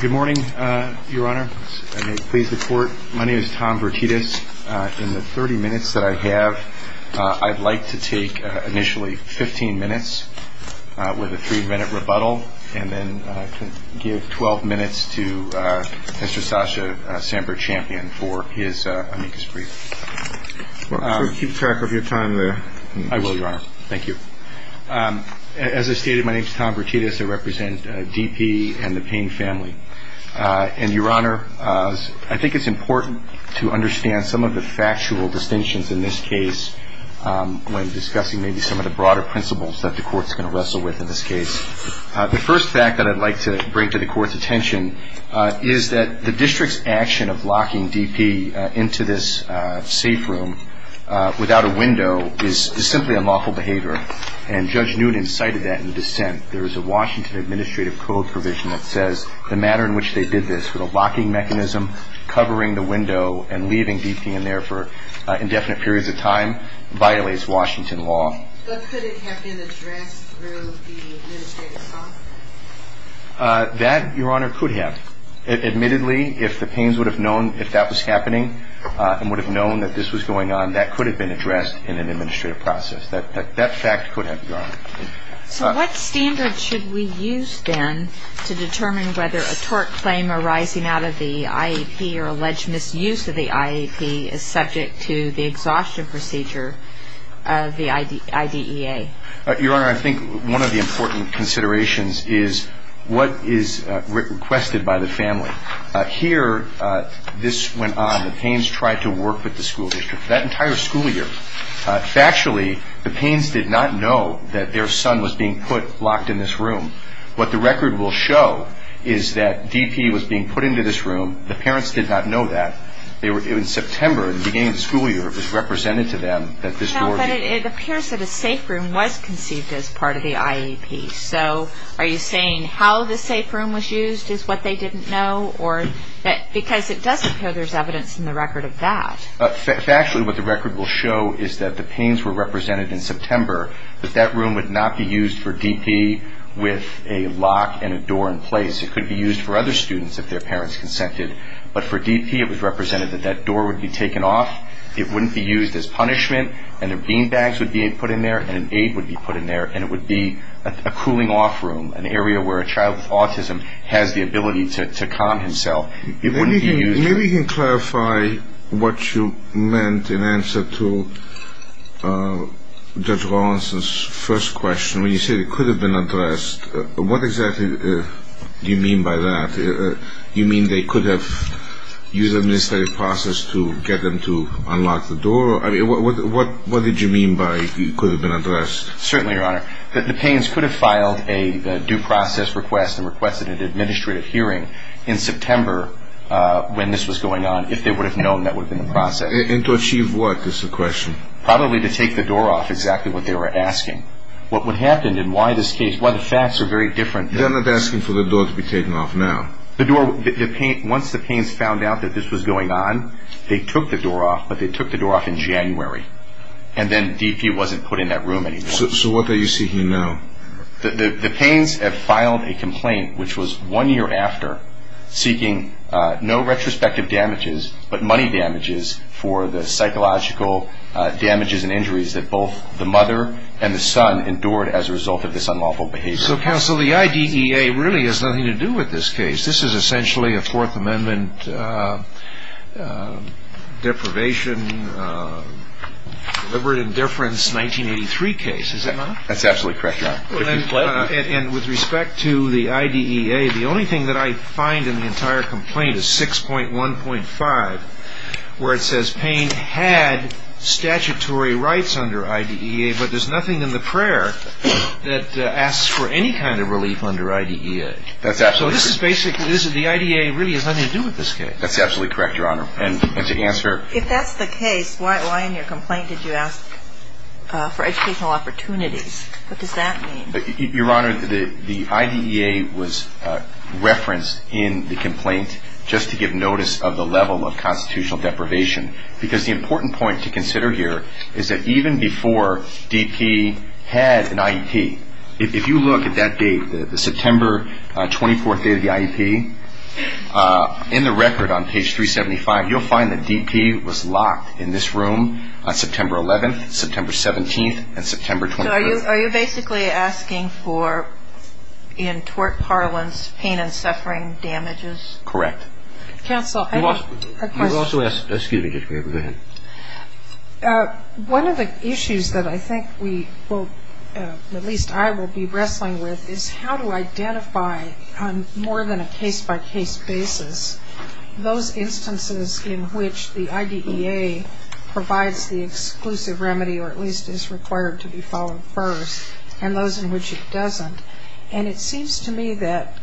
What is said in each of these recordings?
Good morning, Your Honor. My name is Tom Bertides. In the 30 minutes that I have, I'd like to take initially 15 minutes with a three-minute rebuttal, and then give 12 minutes to Mr. Sasha Sampert-Champion for his amicus brief. Keep track of your time there. I will, Your Honor. Thank you. As I stated, my name is Tom Bertides. I represent DP and the Payne family. And, Your Honor, I think it's important to understand some of the factual distinctions in this case when discussing maybe some of the broader principles that the Court's going to wrestle with in this case. The first fact that I'd like to bring to the Court's attention is that the district's action of locking DP into this safe room without a window is simply unlawful behavior. And Judge Newton cited that in the dissent. There's a Washington Administrative Code provision that says the manner in which they did this with a locking mechanism, covering the window, and leaving DP in there for indefinite periods of time violates Washington law. But could it have been addressed through the administrative process? That, Your Honor, could have. Admittedly, if the Paynes would have known if that was happening, and would have known that this was going on, that could have been addressed in an administrative process. What standards should we use, then, to determine whether a tort claim arising out of the IAP or alleged misuse of the IAP is subject to the exhaustion procedure of the IDEA? Your Honor, I think one of the important considerations is what is requested by the family. Here, this went on. The Paynes tried to work with the school district that entire school year. Factually, the Paynes did not know that their son was being put locked in this room. What the record will show is that DP was being put into this room. The parents did not know that. In September, the beginning of the school year, it was represented to them that this door was- But it appears that a safe room was conceived as part of the IAP. So, are you saying how the safe room was used is what they didn't know? Because it doesn't show there's evidence in the record of that. Factually, what the record will show is that the Paynes were represented in September, that that room would not be used for DP with a lock and a door in place. It could be used for other students if their parents consented. But for DP, it was represented that that door would be taken off. It wouldn't be used as punishment, and a beanbag would be put in there, and an aid would be put in there, and it would be a cooling-off room, an area where a child with autism has the ability to calm himself. Maybe you can clarify what you meant in answer to Judge Lawrence's first question. When you say it could have been addressed, what exactly do you mean by that? Do you mean they could have used an administrative process to get them to unlock the door? What did you mean by it could have been addressed? Certainly, Your Honor. The Paynes could have filed a due process request and requested an administrative hearing in September when this was going on, if they would have known that was in the process. And to achieve what is the question? Probably to take the door off, exactly what they were asking. What happened and why the facts are very different. They're not asking for the door to be taken off now. Once the Paynes found out that this was going on, they took the door off, but they took the door off in January, and then DP wasn't put in that room anymore. So what are you seeking now? The Paynes have filed a complaint, which was one year after, seeking no retrospective damages but money damages for the psychological damages and injuries that both the mother and the son endured as a result of this unlawful behavior. So, counsel, the IDEA really has nothing to do with this case. This is essentially a Fourth Amendment deprivation, deliberate indifference, 1983 case, is it not? That's absolutely correct, Your Honor. And with respect to the IDEA, the only thing that I find in the entire complaint is 6.1.5, where it says Payne had statutory rights under IDEA, but there's nothing in the prayer that asks for any kind of relief under IDEA. So this is basically, the IDEA really has nothing to do with this case. That's absolutely correct, Your Honor. If that's the case, why in your complaint did you ask for educational opportunities? What does that mean? Your Honor, the IDEA was referenced in the complaint just to give notice of the level of constitutional deprivation, because the important point to consider here is that even before DP had an IEP, if you look at that date, the September 24th date of the IEP, in the record on page 375, you'll find that DP was locked in this room on September 11th, September 17th, and September 23rd. So are you basically asking for, in tort parlance, pain and suffering damages? Correct. Counsel, I have a question. Excuse me, just go ahead. Thank you. One of the issues that I think we will, at least I will be wrestling with, is how to identify on more than a case-by-case basis those instances in which the IDEA provides the exclusive remedy, or at least is required to be followed first, and those in which it doesn't. And it seems to me that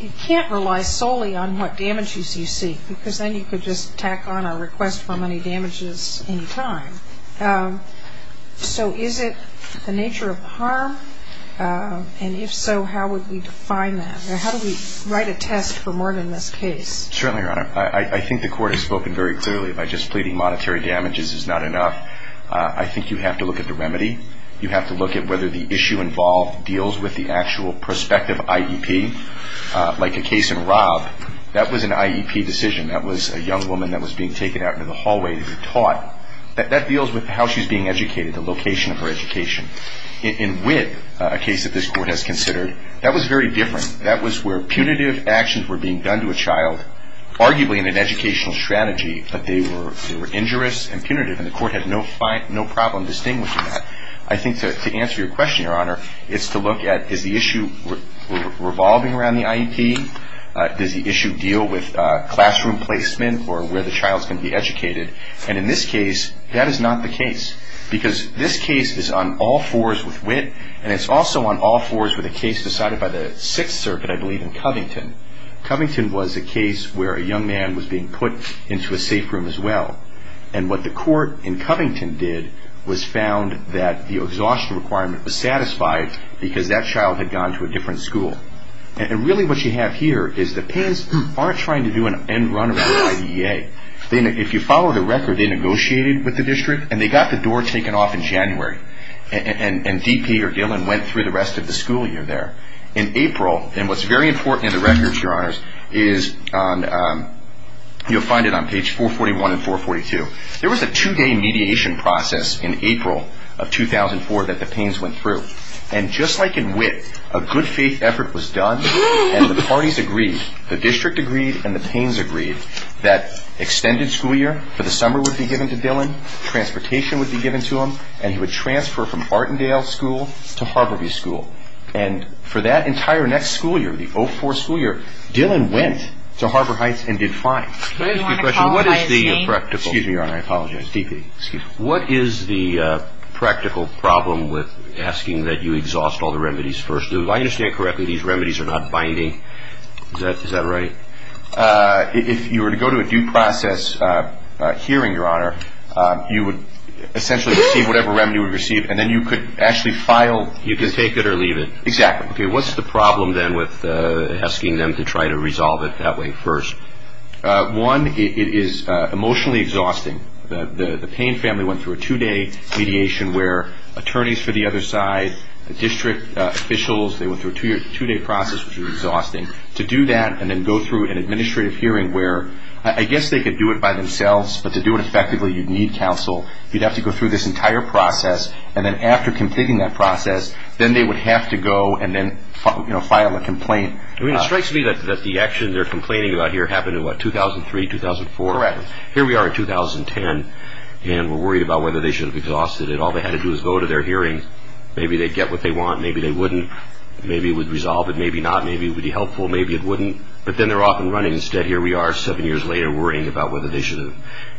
you can't rely solely on what damages you seek, because then you could just tack on a request for money damages any time. So is it the nature of harm? And if so, how would we define that? Or how do we write a text for more than this case? Certainly, Your Honor. I think the Court has spoken very clearly by just pleading monetary damages is not enough. I think you have to look at the remedy. You have to look at whether the issue involved deals with the actual prospective IEP. Like a case in Rob, that was an IEP decision. That was a young woman that was being taken out into the hallway to be taught. That deals with how she's being educated, the location of her education. In Whit, a case that this Court has considered, that was very different. That was where punitive actions were being done to a child, arguably in an educational strategy, but they were injurious and punitive, and the Court had no problem distinguishing that. I think to answer your question, Your Honor, is to look at is the issue revolving around the IEP? Does the issue deal with classroom placement or where the child is going to be educated? And in this case, that is not the case, because this case is on all fours with Whit, and it's also on all fours with a case decided by the Sixth Circuit, I believe, in Covington. Covington was a case where a young man was being put into a safe room as well. And what the Court in Covington did was found that the exhaustion requirement was satisfied because that child had gone to a different school. And really what you have here is the parents aren't trying to do an end runner at the IDEA. If you follow the record, they negotiated with the district, and they got the door taken off in January, and D.P. or Dylan went through the rest of the school year there. In April, and what's very important in the record, Your Honor, is you'll find it on page 441 and 442. There was a two-day mediation process in April of 2004 that the Paynes went through. And just like in Whit, a good faith effort was done, and the parties agreed, the district agreed and the Paynes agreed, that extended school year for the summer would be given to Dylan, transportation would be given to him, and he would transfer from Artendale School to Harborview School. And for that entire next school year, the 04 school year, Dylan went to Harbor Heights and did fine. Can I ask you a question? What is the practical problem with asking that you exhaust all the remedies first? If I understand correctly, these remedies are not binding. Is that right? If you were to go to a due process hearing, Your Honor, you would essentially receive whatever remedy you would receive, and then you could actually file, you could take it or leave it. Exactly. Okay, what's the problem then with asking them to try to resolve it that way first? One, it is emotionally exhausting. The Payne family went through a two-day mediation where attorneys for the other side, district officials, they went through a two-day process, which was exhausting. To do that and then go through an administrative hearing where I guess they could do it by themselves, but to do it effectively, you'd need counsel. You'd have to go through this entire process, and then after completing that process, then they would have to go and then file a complaint. It strikes me that the action they're complaining about here happened in, what, 2003, 2004? Correct. Here we are in 2010, and we're worried about whether they should have exhausted it. All they had to do was go to their hearing. Maybe they'd get what they want. Maybe they wouldn't. Maybe it would resolve it. Maybe not. Maybe it would be helpful. Maybe it wouldn't. But then they're off and running. Instead, here we are seven years later worrying about whether they should have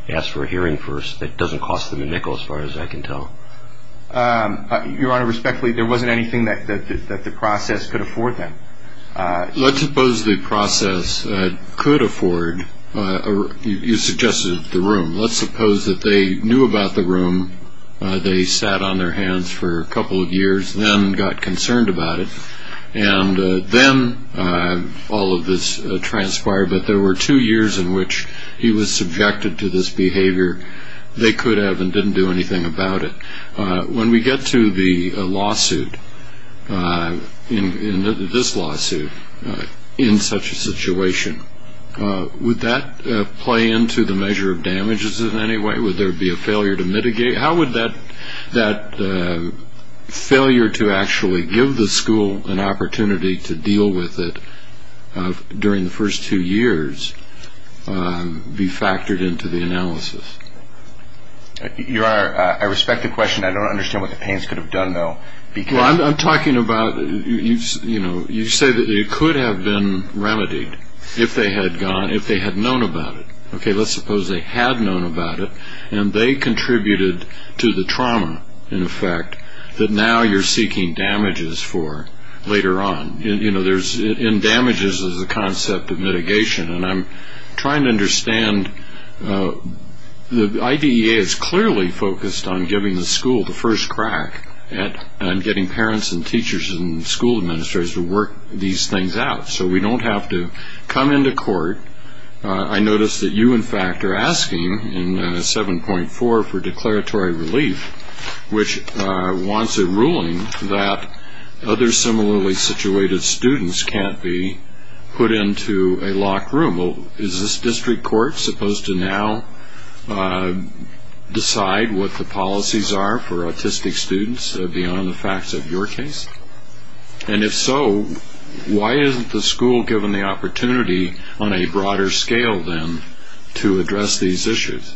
asked for a hearing first. It doesn't cost them a nickel, as far as I can tell. Your Honor, respectfully, there wasn't anything that the process could afford them. Let's suppose the process could afford, you suggested, the room. Let's suppose that they knew about the room. They sat on their hands for a couple of years and then got concerned about it. Then all of this transpired, but there were two years in which he was subjected to this behavior. They could have and didn't do anything about it. When we get to the lawsuit, this lawsuit, in such a situation, would that play into the measure of damages in any way? How would that failure to actually give the school an opportunity to deal with it during the first two years be factored into the analysis? Your Honor, I respect the question. I don't understand what the Payne's could have done, though. I'm talking about, you know, you say that it could have been remedied if they had known about it. Okay, let's suppose they had known about it. And they contributed to the trauma, in effect, that now you're seeking damages for later on. You know, in damages is the concept of mitigation. And I'm trying to understand, the IDEA is clearly focused on giving the school the first crack and getting parents and teachers and school administrators to work these things out so we don't have to come into court. I notice that you, in fact, are asking in 7.4 for declaratory relief, which wants a ruling that other similarly situated students can't be put into a locked room. Is this district court supposed to now decide what the policies are for autistic students beyond the facts of your case? And if so, why isn't the school given the opportunity on a broader scale, then, to address these issues?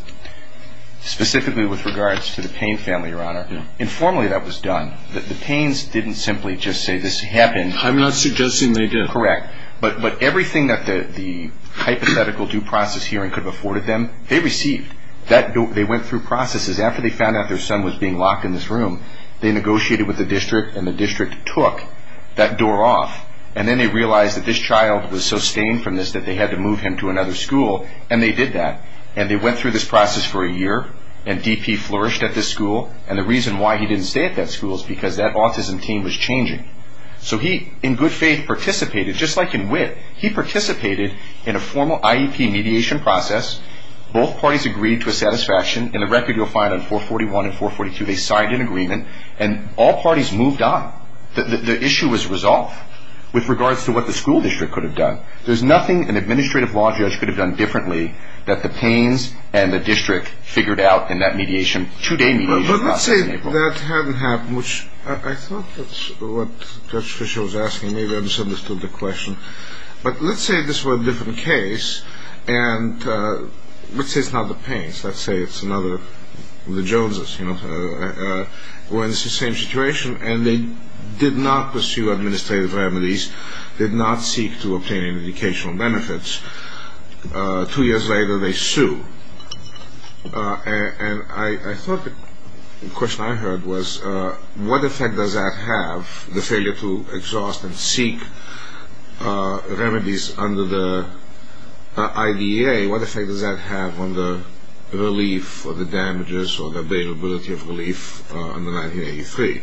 Specifically with regards to the Payne family, Your Honor, informally that was done. The Paynes didn't simply just say this happened. I'm not suggesting they did. Correct. But everything that the hypothetical due process hearing could have afforded them, they received. They went through processes. One of the things that happened was after they found out their son was being locked in this room, they negotiated with the district, and the district took that door off. And then they realized that this child was sustained from this, that they had to move him to another school, and they did that. And they went through this process for a year, and DP flourished at this school. And the reason why he didn't stay at that school is because that autism team was changing. So he, in good faith, participated, just like in WIT. He participated in a formal IEP mediation process. Both parties agreed to a satisfaction, and the record you'll find on 441 and 442, they signed an agreement, and all parties moved on. The issue was resolved with regards to what the school district could have done. There's nothing an administrative law judge could have done differently that the Paynes and the district figured out in that mediation, two-day mediation process. Let's say that hadn't happened, which I thought was what Judge Fisher was asking me. Maybe I misunderstood the question. But let's say this were a different case, and let's say it's not the Paynes. Let's say it's another of the Joneses. We're in the same situation, and they did not pursue administrative remedies. They did not seek to obtain educational benefits. Two years later, they sued. And I thought the question I heard was what effect does that have, the failure to exhaust and seek remedies under the IDEA? What effect does that have on the relief of the damages or the availability of relief under 1983?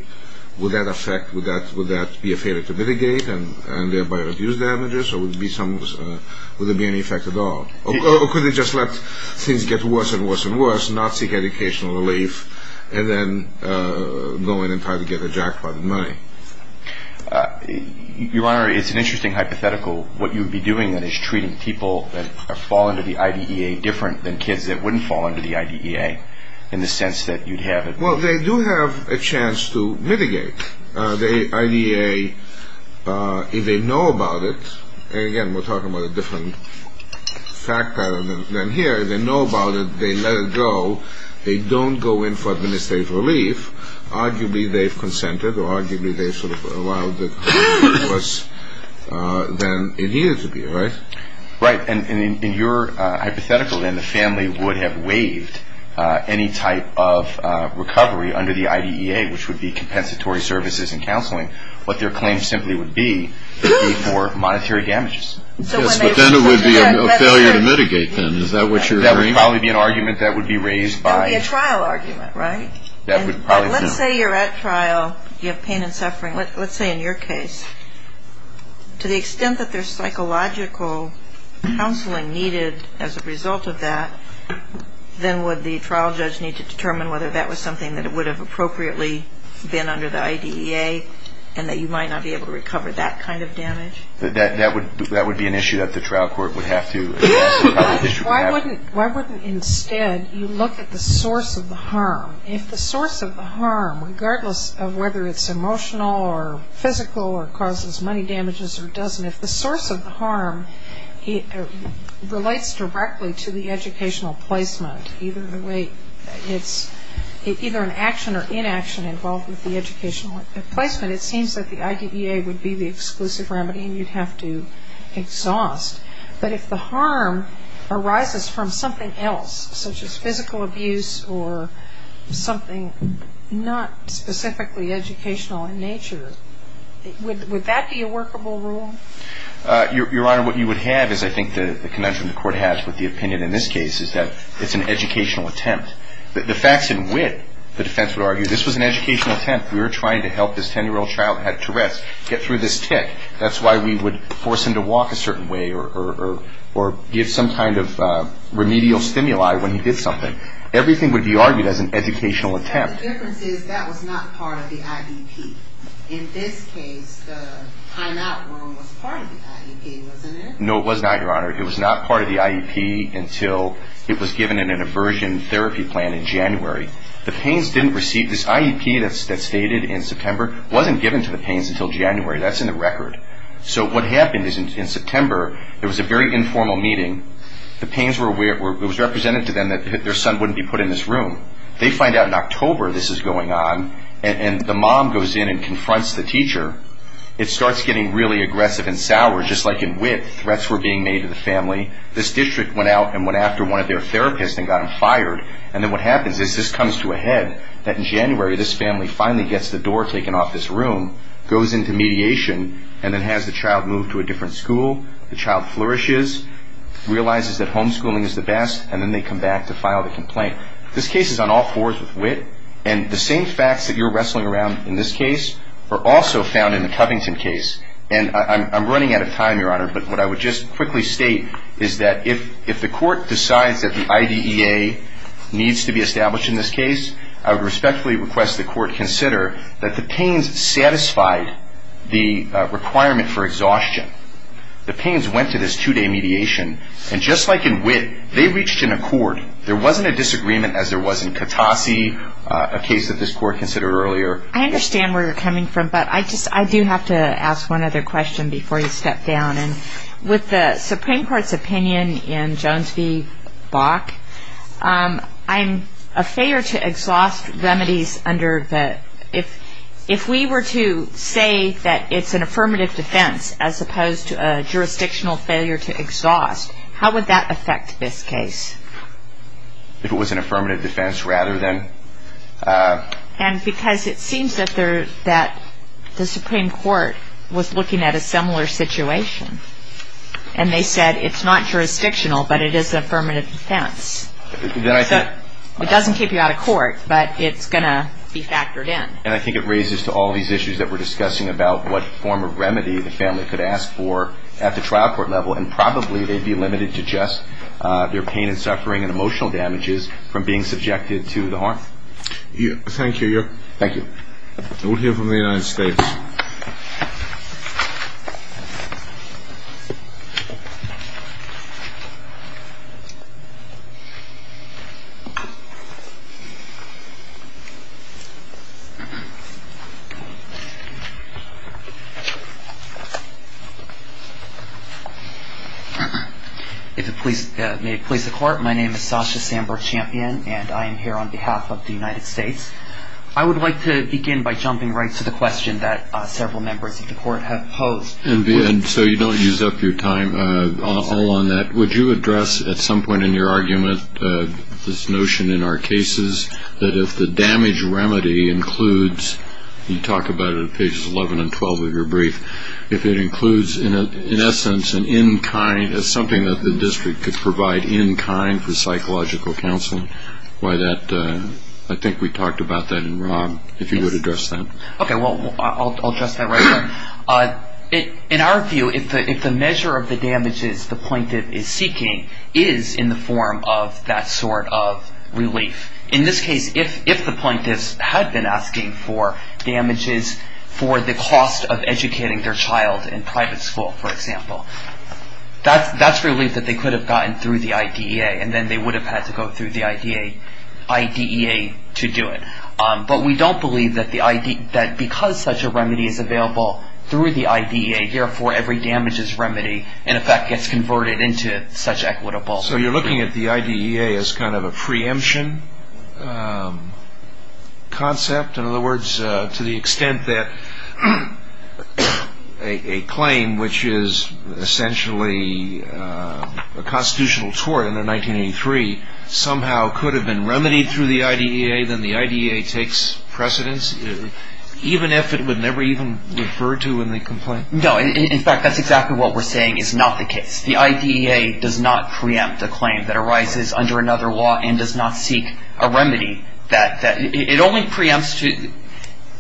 Would that affect, would that be a failure to mitigate and thereby reduce damages, or would there be any effect at all? Or could they just let things get worse and worse and worse, not seek educational relief, and then go in and try to get a jackpot in money? Your Honor, it's an interesting hypothetical. What you would be doing then is treating people that fall under the IDEA different than kids that wouldn't fall under the IDEA in the sense that you'd have it. Well, they do have a chance to mitigate the IDEA if they know about it. And again, we're talking about a different fact pattern than here. They know about it. They let it go. They don't go in for administrative relief. Arguably, they've consented, or arguably they sort of allowed it to get worse than it needed to be, right? Right. And in your hypothetical, then, the family would have waived any type of recovery under the IDEA, which would be compensatory services and counseling. But your claim simply would be for monetary damages. Yes, but then it would be a failure to mitigate them. Is that what you're saying? That would probably be an argument that would be raised by- That would be a trial argument, right? That would probably be. Let's say you're at trial. You have pain and suffering. Let's say in your case, to the extent that there's psychological counseling needed as a result of that, then would the trial judge need to determine whether that was something that would have appropriately been under the IDEA and that you might not be able to recover that kind of damage? That would be an issue that the trial court would have to address. Why wouldn't, instead, you look at the source of the harm? If the source of the harm, regardless of whether it's emotional or physical or causes money damages or doesn't, if the source of the harm relates directly to the educational placement, either an action or inaction involved with the educational placement, it seems that the IDEA would be the exclusive remedy and you'd have to exhaust. But if the harm arises from something else, such as physical abuse or something not specifically educational in nature, would that be a workable rule? Your Honor, what you would have is, I think, the connection the court has with the opinion in this case, is that it's an educational attempt. The facts and wit, the defense would argue, this was an educational attempt. We were trying to help this 10-year-old child who had Tourette's get through this tick. That's why we would force him to walk a certain way or give some kind of remedial stimuli when he did something. Everything would be argued as an educational attempt. But the difference is, that was not part of the IEP. In this case, the high knock room was part of the IEP, wasn't it? No, it was not, Your Honor. It was not part of the IEP until it was given in an aversion therapy plan in January. The pains didn't receive, this IEP that's stated in September wasn't given to the pains until January. That's in the record. So what happened is, in September, there was a very informal meeting. The pains were, it was represented to them that their son wouldn't be put in this room. They find out in October this is going on, and the mom goes in and confronts the teacher. It starts getting really aggressive and sour, just like in wit, threats were being made to the family. This district went out and went after one of their therapists and got him fired. And then what happens is, this comes to a head, that in January, this family finally gets the door taken off this room, goes into mediation, and then has the child moved to a different school. The child flourishes, realizes that homeschooling is the best, and then they come back to file the complaint. This case is on all fours with wit, and the same facts that you're wrestling around in this case are also found in the Covington case. And I'm running out of time, Your Honor, but what I would just quickly state is that if the court decides that the IDEA needs to be established in this case, I would respectfully request the court consider that the pains satisfied the requirement for exhaustion. The pains went to this two-day mediation, and just like in wit, they reached an accord. There wasn't a disagreement as there was in Katase, a case that this court considered earlier. I understand where you're coming from, but I do have to ask one other question before you step down. And with the Supreme Court's opinion in Jones v. Bach, a failure to exhaust remedies under the – if it was an affirmative defense rather than – And because it seems that the Supreme Court was looking at a similar situation, and they said it's not jurisdictional, but it is an affirmative defense. It doesn't keep you out of court, but it's going to be factored in. And I think it raises to all these issues that we're discussing about what form of remedy the family could ask for at the trial court level, and probably they'd be limited to just their pain and suffering and emotional damages from being subjected to the harm. Thank you. We'll hear from the United States. May it please the Court, my name is Sasha Sandberg-Champion, and I am here on behalf of the United States. I would like to begin by jumping right to the question that several members of the Court have posed. So you don't use up your time all on that. Would you address at some point in your argument this notion in our cases that if the damage remedy includes – you talk about it at pages 11 and 12 of your brief – if it includes in essence an in-kind – if you would address that. Okay, well, I'll address that right now. In our view, if the measure of the damages the plaintiff is seeking is in the form of that sort of relief, in this case, if the plaintiff had been asking for damages for the cost of educating their child in private school, for example, that's relief that they could have gotten through the IDEA, and then they would have had to go through the IDEA to do it. But we don't believe that because such a remedy is available through the IDEA, therefore every damages remedy in effect gets converted into such equitable relief. So you're looking at the IDEA as kind of a preemption concept? In other words, to the extent that a claim which is essentially a constitutional tort under 1983 somehow could have been remedied through the IDEA, then the IDEA takes precedence, even if it would never even refer to in the complaint? No, in fact, that's exactly what we're saying is not the case. The IDEA does not preempt a claim that arises under another law and does not seek a remedy. It only preempts,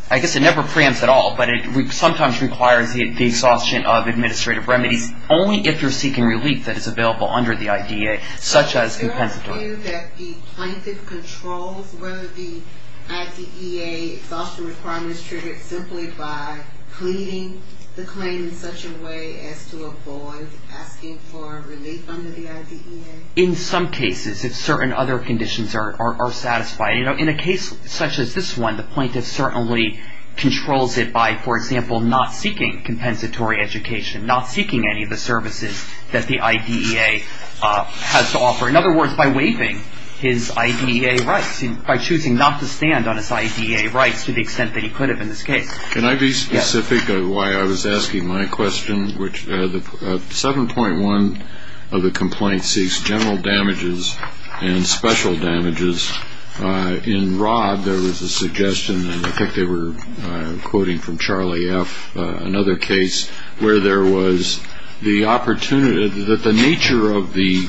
I guess it never preempts at all, but it sometimes requires the exhaustion of administrative remedies only if you're seeking relief that is available under the IDEA, such as in Pennsylvania. Is there a view that the plaintiff controls whether the IDEA exhaustion requirement is triggered simply by pleading the claim in such a way as to avoid asking for relief under the IDEA? In some cases, if certain other conditions are satisfied. In a case such as this one, the plaintiff certainly controls it by, for example, not seeking compensatory education, not seeking any of the services that the IDEA has to offer. In other words, by waiving his IDEA rights, by choosing not to stand on his IDEA rights to the extent that he could have in this case. Can I be specific on why I was asking my question? 7.1 of the complaint seeks general damages and special damages. In Rod, there was a suggestion, and I think they were quoting from Charlie F., another case, where there was the opportunity that the nature of the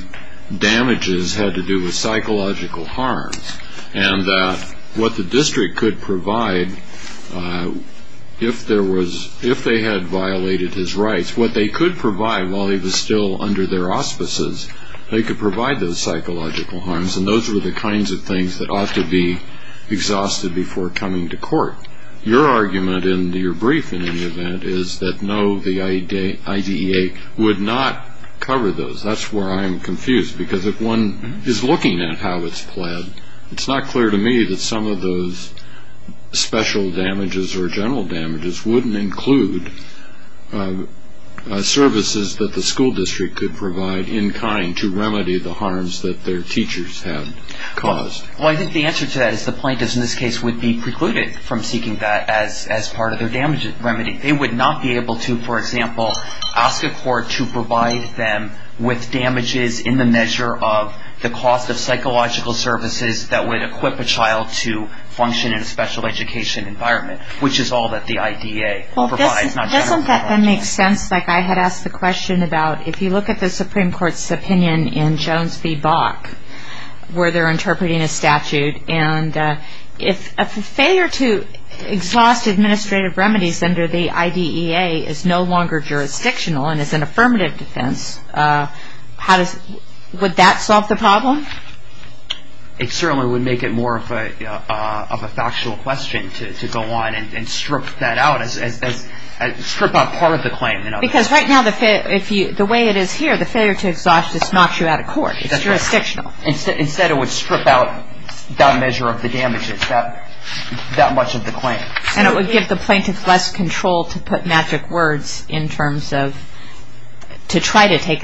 damages had to do with psychological harm, and that what the district could provide if they had violated his rights, what they could provide while he was still under their auspices, they could provide those psychological harms, and those were the kinds of things that ought to be exhausted before coming to court. Your argument in your brief, in any event, is that no, the IDEA would not cover those. That's where I'm confused, because if one is looking at how it's planned, it's not clear to me that some of those special damages or general damages wouldn't include services that the school district could provide in kind to remedy the harms that their teachers have caused. Well, I think the answer to that is the plaintiffs in this case would be precluded from seeking that as part of their damages remedy. They would not be able to, for example, ask the court to provide them with damages in the measure of the cost of psychological services that would equip a child to function in a special education environment, which is all that the IDEA provides. Well, doesn't that then make sense? Like I had asked the question about, if you look at the Supreme Court's opinion in Jones v. Bach, where they're interpreting a statute, and if a failure to exhaust administrative remedies under the IDEA is no longer jurisdictional and it's an affirmative defense, would that solve the problem? It certainly would make it more of a factual question to go on and strip that out, strip out part of the claim. Because right now, the way it is here, the failure to exhaust is not true out of court. It's jurisdictional. Instead, it would strip out that measure of the damages, that much of the claim. And it would give the plaintiffs less control to put magic words in terms of to try to take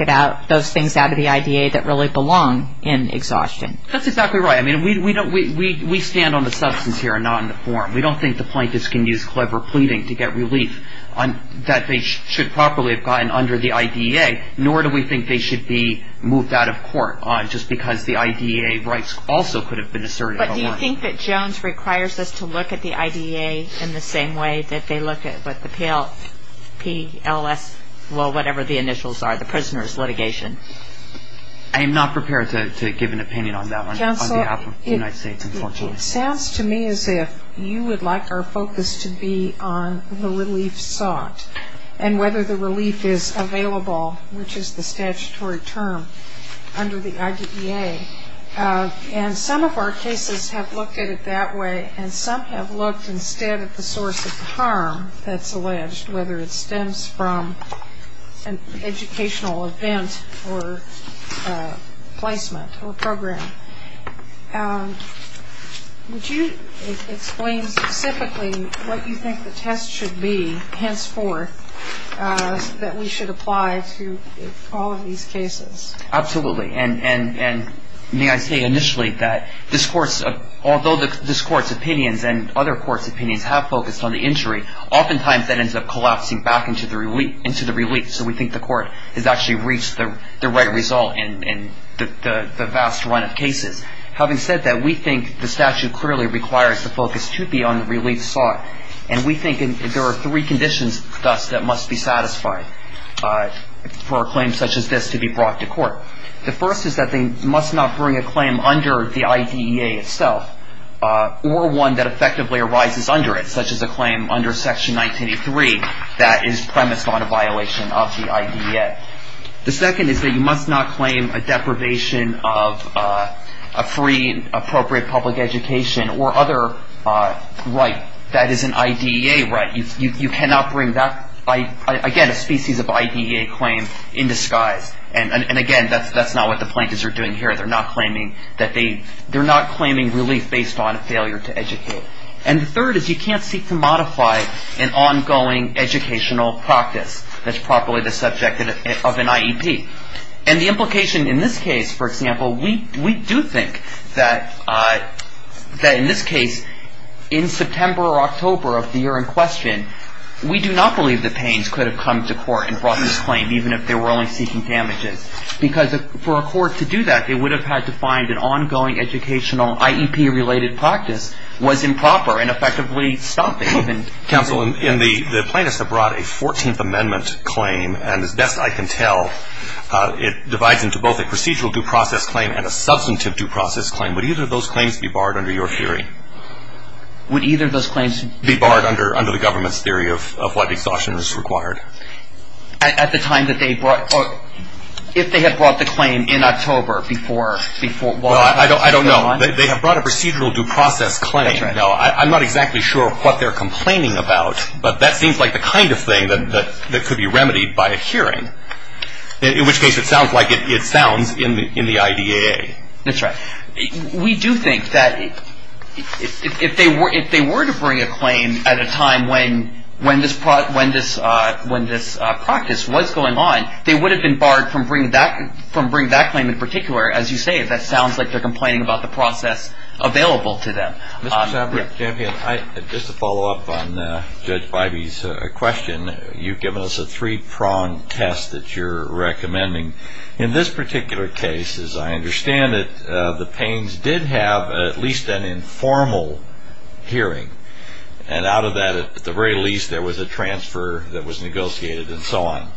those things out of the IDEA that really belong in exhaustion. That's exactly right. I mean, we stand on the substance here and not on the form. We don't think the plaintiffs can use clever pleading to get relief that they should properly find under the IDEA, nor do we think they should be moved out of court just because the IDEA rights also could have been asserted. But do you think that Jones requires us to look at the IDEA in the same way that they look at the PLS, well, whatever the initials are, the prisoners litigation? I am not prepared to give an opinion on that on behalf of the United States Constitution. It sounds to me as if you would like our focus to be on the relief sought and whether the relief is available, which is the statutory term under the IDEA. And some of our cases have looked at it that way, and some have looked instead at the source of the harm that's alleged, whether it stems from an educational event or placement or program. Would you explain specifically what you think the test should be, henceforth, that we should apply to all of these cases? Absolutely. And may I say initially that although this Court's opinions and other Courts' opinions have focused on the injury, oftentimes that ends up collapsing back into the relief. So we think the Court has actually reached the right result in the vast run of cases. Having said that, we think the statute clearly requires the focus to be on the relief sought. And we think there are three conditions, thus, that must be satisfied for a claim such as this to be brought to court. The first is that they must not bring a claim under the IDEA itself or one that effectively arises under it, such as a claim under Section 1983 that is premised on a violation of the IDEA. The second is that you must not claim a deprivation of a free, appropriate public education or other right that is an IDEA right. You cannot bring that, again, a species of IDEA claim in disguise. And again, that's not what the plaintiffs are doing here. They're not claiming relief based on a failure to educate. And the third is you can't seek to modify an ongoing educational practice. That's probably the subject of an IEP. And the implication in this case, for example, we do think that in this case, in September or October of the year in question, we do not believe that Payne's could have come to court and brought this claim, even if they were only seeking damages. Because for a court to do that, they would have had to find an ongoing educational IEP-related practice was improper and effectively something. Counsel, the plaintiffs have brought a 14th Amendment claim. And as best I can tell, it divides into both a procedural due process claim and a substantive due process claim. Would either of those claims be barred under your theory? Would either of those claims be barred under the government's theory of what exhaustion is required? At the time that they brought or if they had brought the claim in October before? I don't know. They have brought a procedural due process claim. Now, I'm not exactly sure what they're complaining about. But that seems like the kind of thing that could be remedied by a hearing. In which case, it sounds like it sounds in the IDAA. That's right. We do think that if they were to bring a claim at a time when this practice was going on, they would have been barred from bringing that claim in particular. As you say, that sounds like they're complaining about the process available to them. Mr. Sabra, just to follow up on Judge Bybee's question, you've given us a three-prong test that you're recommending. In this particular case, as I understand it, the pains did have at least an informal hearing. And out of that, at the very least, there was a transfer that was negotiated and so on.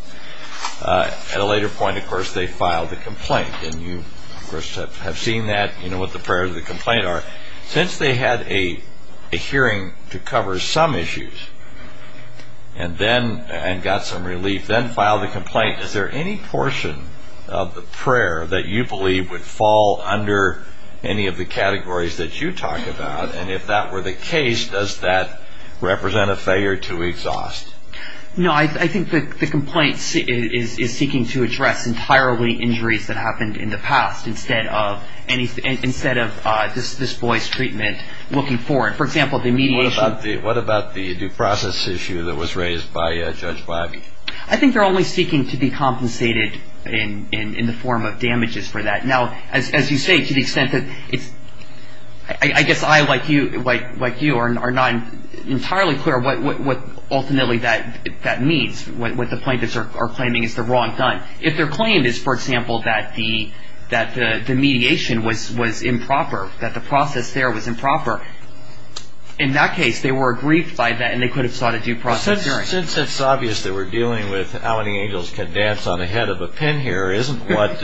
At a later point, of course, they filed a complaint. And you, of course, have seen that, you know, what the prayers of the complaint are. Since they had a hearing to cover some issues and got some relief, then filed a complaint, is there any portion of the prayer that you believe would fall under any of the categories that you talked about? And if that were the case, does that represent a failure to exhaust? No, I think the complaint is seeking to address entirely injuries that happened in the past instead of this boy's treatment looking forward. For example, the mediation. What about the due process issue that was raised by Judge Bybee? I think they're always seeking to be compensated in the form of damages for that. Now, as you say, to the extent that I guess I, like you, are not entirely clear what ultimately that means, what the plaintiffs are claiming is the wrong thing. If their claim is, for example, that the mediation was improper, that the process there was improper, in that case, they were aggrieved by that and they could have sought a due process hearing. Since it's obvious that we're dealing with how many angels can dance on the head of a pin here, isn't what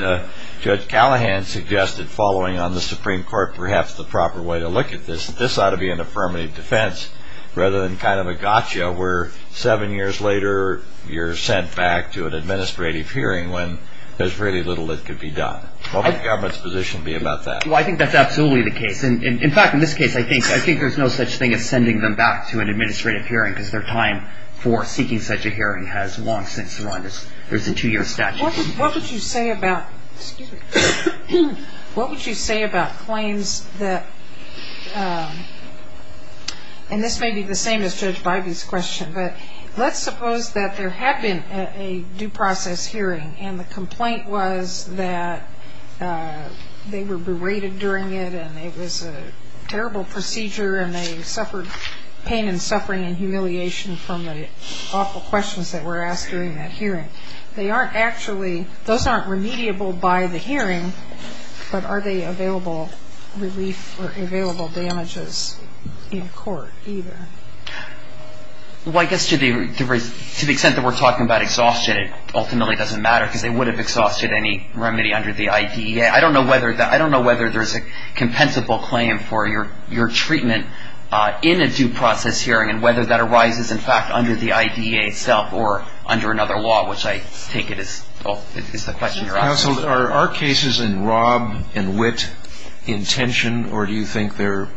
Judge Callahan suggested following on the Supreme Court perhaps the proper way to look at this? This ought to be an affirmative defense rather than kind of a gotcha where seven years later you're sent back to an administrative hearing when there's really little that could be done. What would the government's position be about that? Well, I think that's absolutely the case. In fact, in this case, I think there's no such thing as sending them back to an administrative hearing because their time for seeking such a hearing has long since run. There's a two-year statute. What would you say about claims that, and this may be the same as Judge Bybee's question, but let's suppose that there had been a due process hearing and the complaint was that they were berated during it and it was a terrible procedure and they suffered pain and suffering and humiliation from the awful questions that were asked during that hearing. They aren't actually, those aren't remediable by the hearing, but are they available relief or available damages in court either? Well, I guess to the extent that we're talking about exhaustion, it ultimately doesn't matter because they would have exhausted any remedy under the IDEA. I don't know whether there's a compensable claim for your treatment in a due process hearing and whether that arises, in fact, under the IDEA itself or under another law, which I take it is the question you're asking. Counsel, are our cases in rob and wit intention, or do you think they're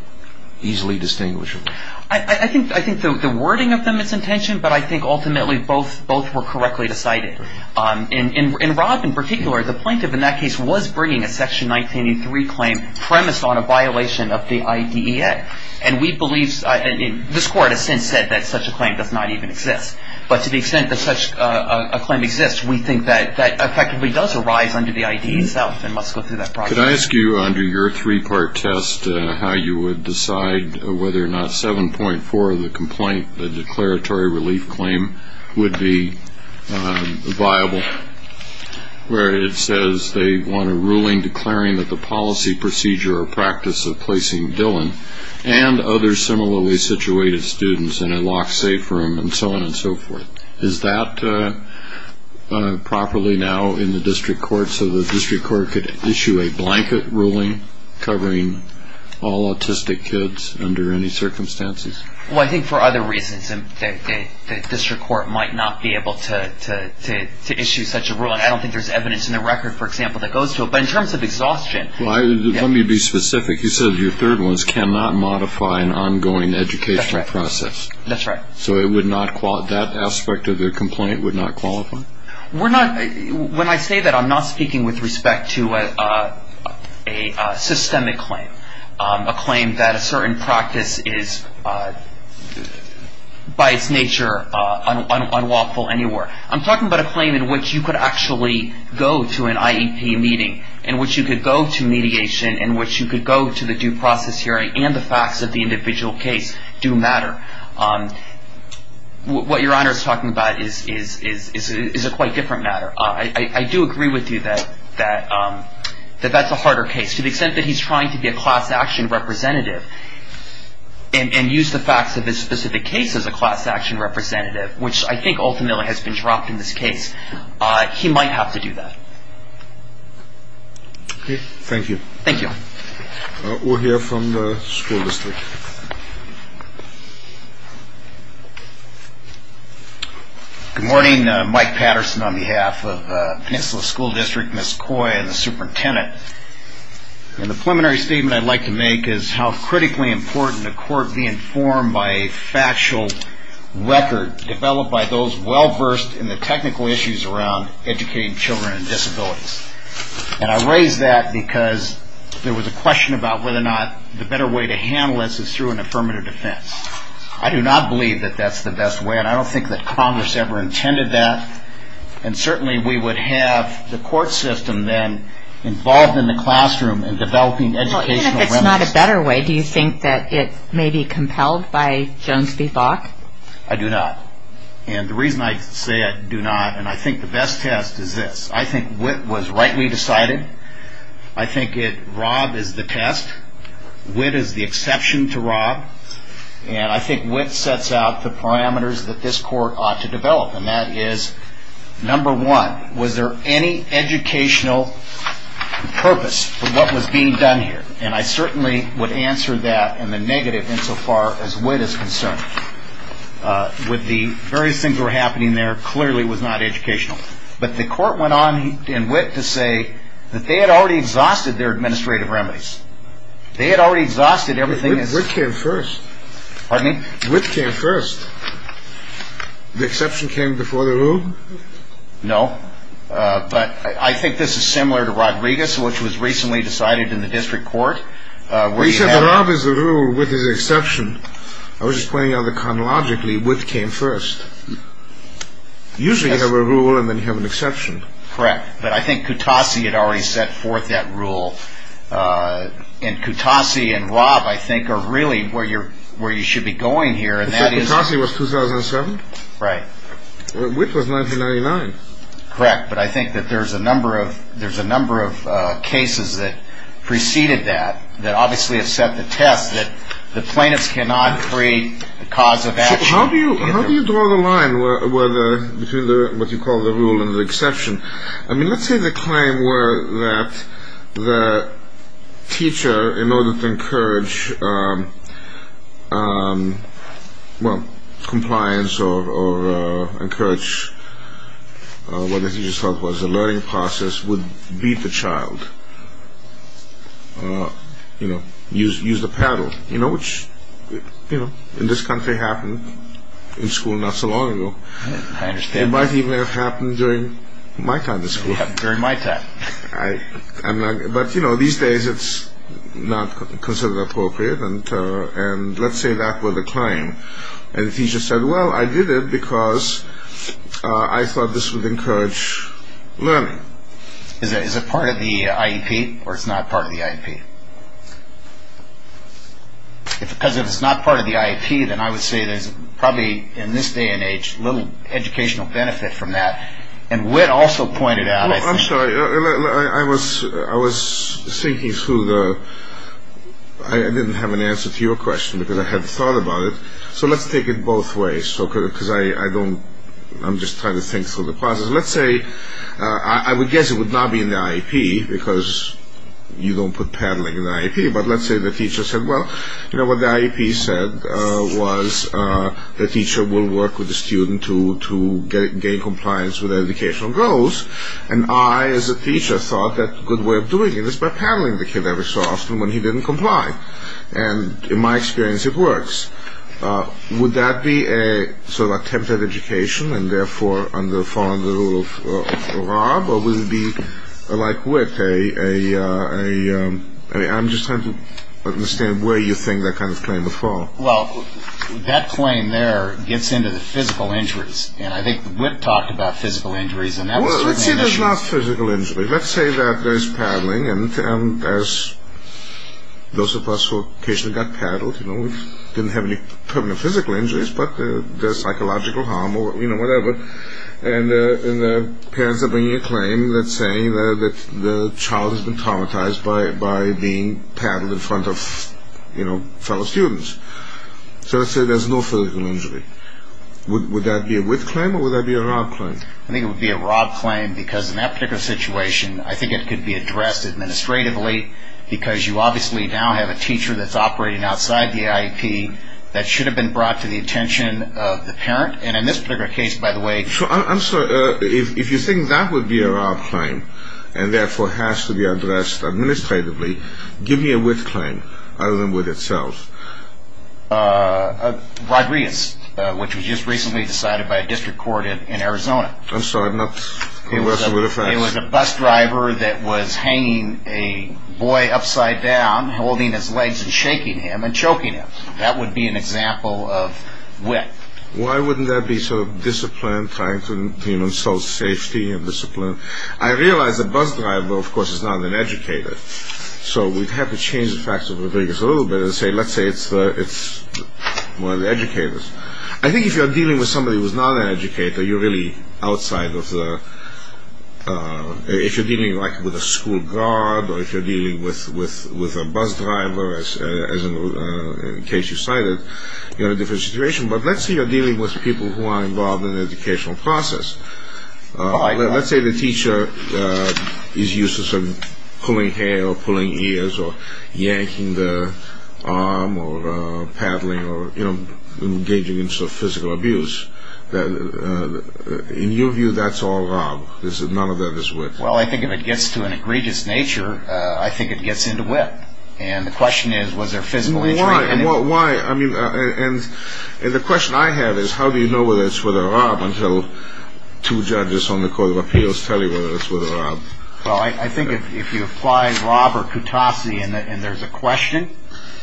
easily distinguishable? I think the wording of them is intention, but I think ultimately both were correctly decided. In rob in particular, the plaintiff in that case was bringing a Section 1983 claim premised on a violation of the IDEA, and we believe, and this Court has since said that such a claim does not even exist, but to the extent that such a claim exists, we think that effectively does arise under the IDEA itself, and let's go through that process. Could I ask you under your three-part test how you would decide whether or not 7.4 of the complaint, the declaratory relief claim, would be viable, where it says they want a ruling declaring that the policy, procedure, or practice of placing Dillon and other similarly situated students in a locked safe room and so on and so forth. Is that properly now in the district court so the district court could issue a blanket ruling covering all autistic kids under any circumstances? Well, I think for other reasons the district court might not be able to issue such a ruling. I don't think there's evidence in the record, for example, that goes to it, but in terms of exhaustion. Let me be specific. It says your third one is cannot modify an ongoing educational process. That's right. So that aspect of the complaint would not qualify? When I say that, I'm not speaking with respect to a systemic claim, a claim that a certain practice is by its nature unlawful anywhere. I'm talking about a claim in which you could actually go to an IEP meeting, in which you could go to mediation, in which you could go to the due process hearing, and the facts of the individual case do matter. What Your Honor is talking about is a quite different matter. I do agree with you that that's a harder case. To the extent that he's trying to be a class action representative and use the fact that this specific case is a class action representative, which I think ultimately has been dropped in this case, he might have to do that. Okay. Thank you. Thank you. We'll hear from the school district. Good morning. Mike Patterson on behalf of the Peninsula School District, Ms. Coy, and the superintendent. The preliminary statement I'd like to make is how critically important the court be informed by a factual record developed by those well-versed in the technical issues around educating children and disabilities. And I raise that because there was a question about whether or not the better way to handle this is through an affirmative defense. I do not believe that that's the best way, and I don't think that Congress ever intended that. And certainly we would have the court system then involved in the classroom in developing educational remedies. Well, even if it's not a better way, do you think that it may be compelled by Jones v. Box? I do not. And the reason I say I do not, and I think the best test is this. I think WIT was rightly decided. I think that Rod is the test. WIT is the exception to Rod. And I think WIT sets out the parameters that this court ought to develop, and that is, number one, was there any educational purpose for what was being done here? And I certainly would answer that and the negative insofar as WIT is concerned. With the very things that were happening there, clearly it was not educational. But the court went on in WIT to say that they had already exhausted their administrative remedies. They had already exhausted everything. WIT came first. Pardon me? WIT came first. The exception came before the rule? No. But I think this is similar to Rodriguez, which was recently decided in the district court. He said Rod is the rule, WIT is the exception. I was just pointing out that chronologically WIT came first. Usually you have a rule and then you have an exception. Correct. But I think Kutasi had already set forth that rule. And Kutasi and Rod, I think, are really where you should be going here. Kutasi was 2007? Right. WIT was 1999. Correct. But I think that there's a number of cases that preceded that, that obviously accept the test, that the plaintiff cannot create the cause of action. How do you draw the line between what you call the rule and the exception? I mean, let's say the claim were that the teacher, in order to encourage compliance or encourage what the teacher is talking about as a learning process, would beat the child, use the paddle, which in this country happened in school not so long ago. I understand. It might even have happened during my time in school. During my time. But, you know, these days it's not considered appropriate. And let's say that were the claim. And the teacher said, well, I did it because I thought this would encourage learning. Is it part of the IEP or it's not part of the IEP? If it's not part of the IEP, then I would say there's probably, in this day and age, little educational benefit from that. And WIT also pointed out- I'm sorry. I was thinking through the-I didn't have an answer to your question because I hadn't thought about it. So, let's take it both ways. Because I don't-I'm just trying to think through the process. Let's say-I would guess it would not be in the IEP because you don't put paddling in the IEP. But let's say the teacher said, well, you know, what the IEP said was the teacher will work with the student to gain compliance with their educational goals. And I, as a teacher, thought that a good way of doing it is by paddling the kid every so often when he didn't comply. And in my experience, it works. Would that be a sort of attempt at education and, therefore, under the fall under the rule of Rob? Or would it be like WIT? I'm just trying to understand where you think that kind of claim will fall. Well, that claim there gets into the physical injuries. And I think WIT talks about physical injuries. Well, it's not physical injuries. Let's say that there's paddling and those of us who occasionally got paddled didn't have any permanent physical injuries, but there's psychological harm or, you know, whatever. And the parents are bringing a claim that's saying that the child has been traumatized by being paddled in front of, you know, fellow students. So, let's say there's no physical injury. Would that be a WIT claim or would that be a Rob claim? I think it would be a Rob claim because in that particular situation, I think it could be addressed administratively because you obviously now have a teacher that's operating outside the IEP that should have been brought to the attention of the parent. And in this particular case, by the way- I'm sorry. If you think that would be a Rob claim and, therefore, has to be addressed administratively, give me a WIT claim other than WIT itself. Rodriguez, which was just recently decided by a district court in Arizona. I'm sorry. It was a bus driver that was hanging a boy upside down, holding his legs and shaking him and choking him. That would be an example of WIT. Why wouldn't that be sort of disciplined, trying to ensure safety and discipline? I realize the bus driver, of course, is not an educator. So we'd have to change the facts of Rodriguez a little bit and say, let's say it's one of the educators. I think if you're dealing with somebody who's not an educator, you're really outside of the- if you're dealing with a school guard or if you're dealing with a bus driver, as in the case you cited, you're in a different situation. But let's say you're dealing with people who are involved in the educational process. Let's say the teacher is used to pulling hair or pulling ears or yanking the arm or paddling or engaging in some physical abuse. In your view, that's all Rob. None of that is WIT. Well, I think if it gets to an egregious nature, I think it gets into WIT. And the question is, was there physical- Well, why? I mean, and the question I have is, how do you know whether it's with a Rob until two judges on the Court of Appeals tell you whether it's with a Rob? Well, I think if you apply Rob or Kutopsy and there's a question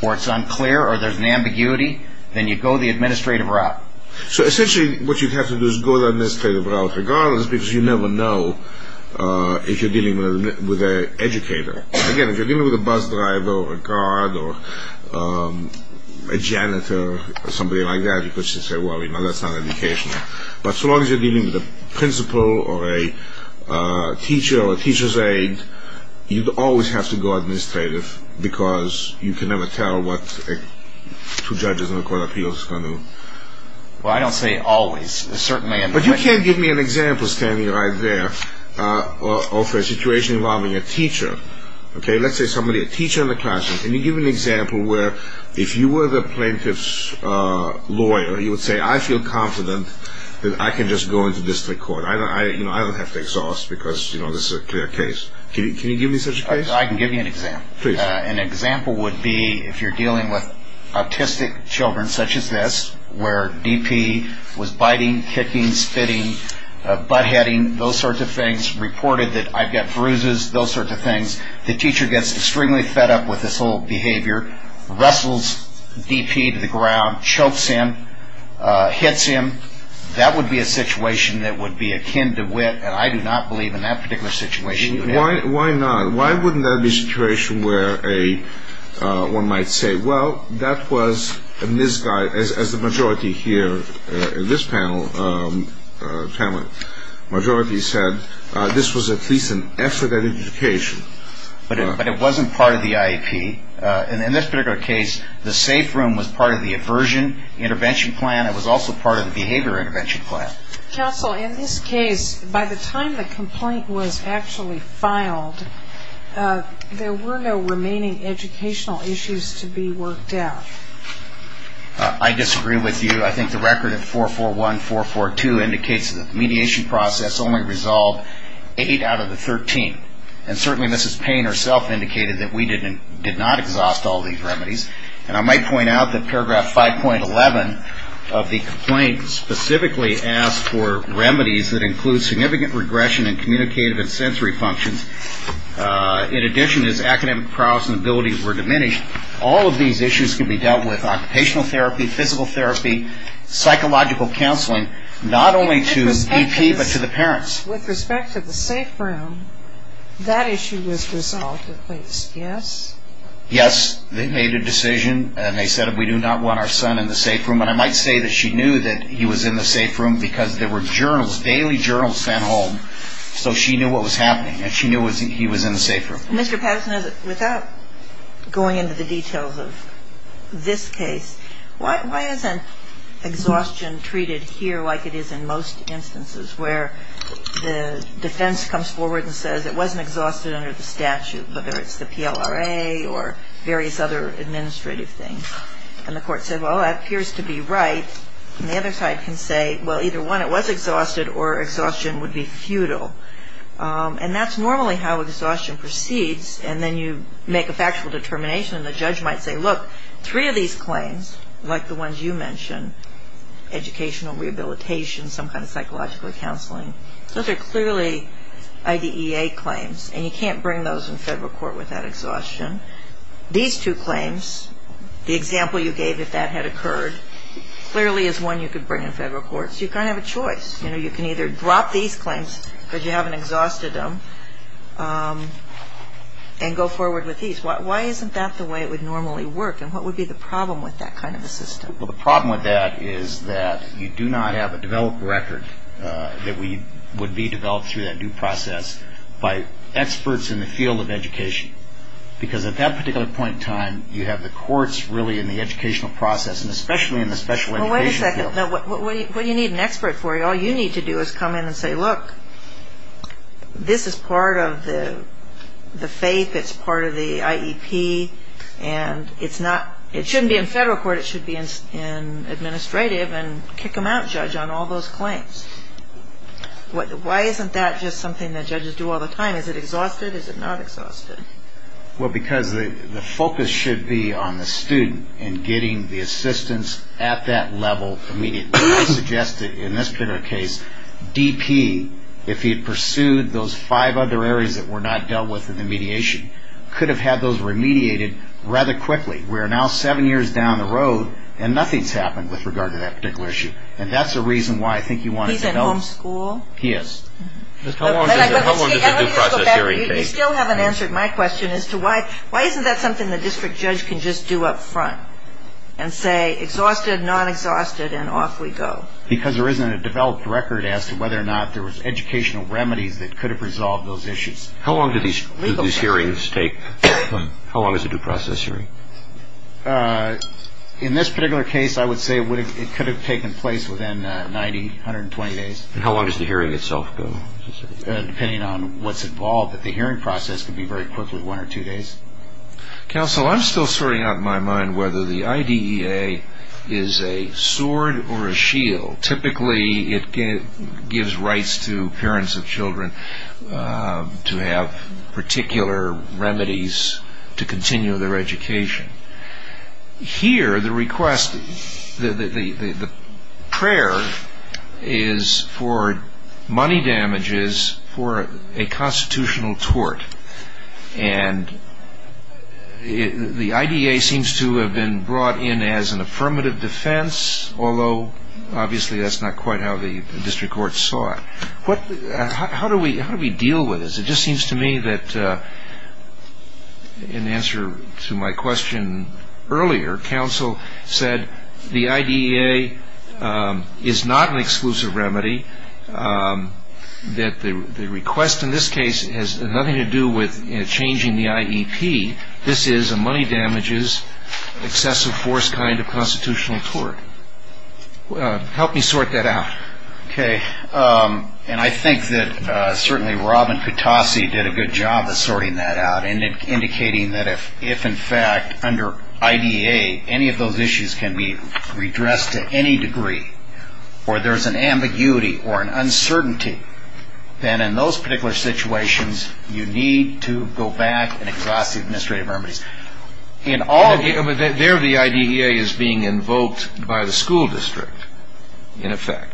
or it's unclear or there's an ambiguity, then you go the administrative route. So essentially what you'd have to do is go the administrative route regardless because you never know if you're dealing with an educator. Again, if you're dealing with a bus driver or a guard or a janitor or somebody like that, you could say, well, you know, that's not educational. But so long as you're dealing with a principal or a teacher or a teacher's aide, you always have to go administrative because you can never tell what two judges on the Court of Appeals are going to- Well, I don't say always. But you can't give me an example standing right there of a situation involving a teacher. Let's say somebody, a teacher in the classroom. Can you give me an example where if you were the plaintiff's lawyer, you would say, I feel confident that I can just go into district court. I don't have to exhaust because, you know, this is a clear case. Can you give me such a case? I can give you an example. Please. An example would be if you're dealing with autistic children such as this where DP was biting, kicking, spitting, butt-heading, those sorts of things, reported that I've got bruises, those sorts of things. The teacher gets extremely fed up with this whole behavior, wrestles DP to the ground, chokes him, hits him. That would be a situation that would be akin to wit, and I do not believe in that particular situation. Why not? That would be a situation where one might say, well, that was, as the majority here in this panel, majority said, this was at least an excellent education. But it wasn't part of the IEP. In this particular case, the safe room was part of the aversion intervention plan. It was also part of the behavior intervention plan. Counsel, in this case, by the time the complaint was actually filed, there were no remaining educational issues to be worked out. I disagree with you. I think the record at 441, 442 indicates that the mediation process only resolved eight out of the 13. And certainly Mrs. Payne herself indicated that we did not exhaust all these remedies. And I might point out that paragraph 5.11 of the complaint specifically asks for remedies that include significant regression in communicative and sensory functions. In addition, as academic prowess and abilities were diminished, all of these issues could be dealt with occupational therapy, physical therapy, psychological counseling, not only to DP but to the parents. With respect to the safe room, that issue was resolved at least, yes? Yes, they made a decision and they said we do not want our son in the safe room. And I might say that she knew that he was in the safe room because there were journals, daily journals sent home, so she knew what was happening and she knew he was in the safe room. Mr. Patterson, without going into the details of this case, why isn't exhaustion treated here like it is in most instances where the defense comes forward and says it wasn't exhausted under the statute, whether it's the PLRA or various other administrative things. And the court says, well, that appears to be right. And the other side can say, well, either one, it was exhausted or exhaustion would be futile. And that's normally how exhaustion proceeds and then you make a factual determination and the judge might say, Look, three of these claims, like the ones you mentioned, educational rehabilitation, some kind of psychological counseling, those are clearly IDEA claims and you can't bring those in federal court without exhaustion. These two claims, the example you gave that that had occurred, clearly is one you could bring in federal court. So you kind of have a choice. You can either drop these claims because you haven't exhausted them and go forward with these. Why isn't that the way it would normally work? And what would be the problem with that kind of a system? Well, the problem with that is that you do not have a developed record that would be developed through that due process by experts in the field of education. Because at that particular point in time, you have the courts really in the educational process and especially in the special education field. Well, wait a second. What do you need an expert for? All you need to do is come in and say, Look, this is part of the faith. It's part of the IEP. And it shouldn't be in federal court. It should be in administrative and kick them out, judge, on all those claims. Why isn't that just something that judges do all the time? Is it exhausted? Is it not exhausted? Well, because the focus should be on the student and getting the assistance at that level immediately. I suggest that in this particular case, DP, if he pursued those five other areas that were not dealt with in the mediation, could have had those remediated rather quickly. We're now seven years down the road and nothing's happened with regard to that particular issue. And that's the reason why I think you want to develop- He's in homeschool? He is. How long does the due process hearing take? You still haven't answered my question as to why isn't that something the district judge can just do up front and say exhausted, not exhausted, and off we go. Because there isn't a developed record as to whether or not there was educational remedy that could have resolved those issues. How long do these hearings take? How long is a due process hearing? In this particular case, I would say it could have taken place within 90, 120 days. And how long does the hearing itself go? Depending on what's involved, the hearing process could be very quickly one or two days. Counsel, I'm still sorting out in my mind whether the IDEA is a sword or a shield. Typically, it gives rights to parents of children to have particular remedies to continue their education. Here, the request, the prayer is for money damages for a constitutional tort. And the IDEA seems to have been brought in as an affirmative defense, although obviously that's not quite how the district court saw it. How do we deal with this? It just seems to me that in answer to my question earlier, counsel said the IDEA is not an exclusive remedy, that the request in this case has nothing to do with changing the IEP. This is a money damages excessive force kind of constitutional tort. Help me sort that out. Okay. And I think that certainly Robin Kutasi did a good job of sorting that out and indicating that if in fact under IDEA any of those issues can be redressed to any degree or there's an ambiguity or an uncertainty, then in those particular situations, you need to go back and address the administrative remedies. There, the IDEA is being invoked by the school district, in effect.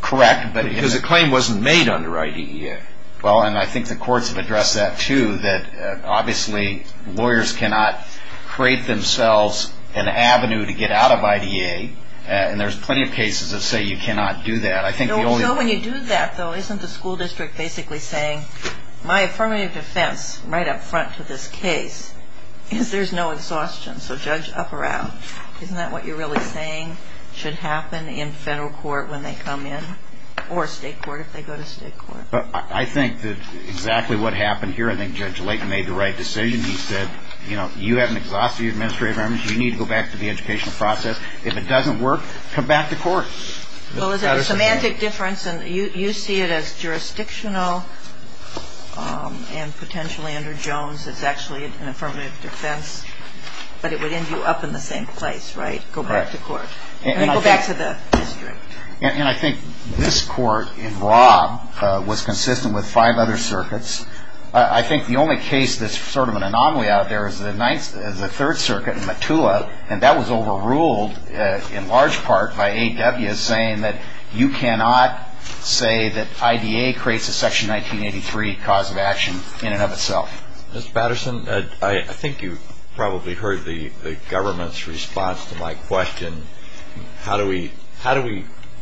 Correct. Because the claim wasn't made under IDEA. Well, and I think the courts have addressed that, too, that obviously lawyers cannot create themselves an avenue to get out of IDEA, and there's plenty of cases that say you cannot do that. No, when you do that, though, isn't the school district basically saying, my affirmative defense right up front for this case is there's no exhaustion, so judge up or out. Isn't that what you're really saying should happen in federal court when they come in, or state court if they go to state court? I think that's exactly what happened here. I think Judge Layton made the right decision. He said, you know, you have an exhaustive administrative remedy, so you need to go back to the educational process. If it doesn't work, come back to court. Well, there's a semantic difference, and you see it as jurisdictional, and potentially under Jones it's actually an affirmative defense, but it would end you up in the same place, right? Go back to court. And go back to the district. And I think this court in Robb was consistent with five other circuits. I think the only case that's sort of an anomaly out there is the third circuit in Matua, and that was overruled in large part by A.W. saying that you cannot say that I.D.A. creates a Section 1983 cause of action in and of itself. Mr. Patterson, I think you probably heard the government's response to my question, how do we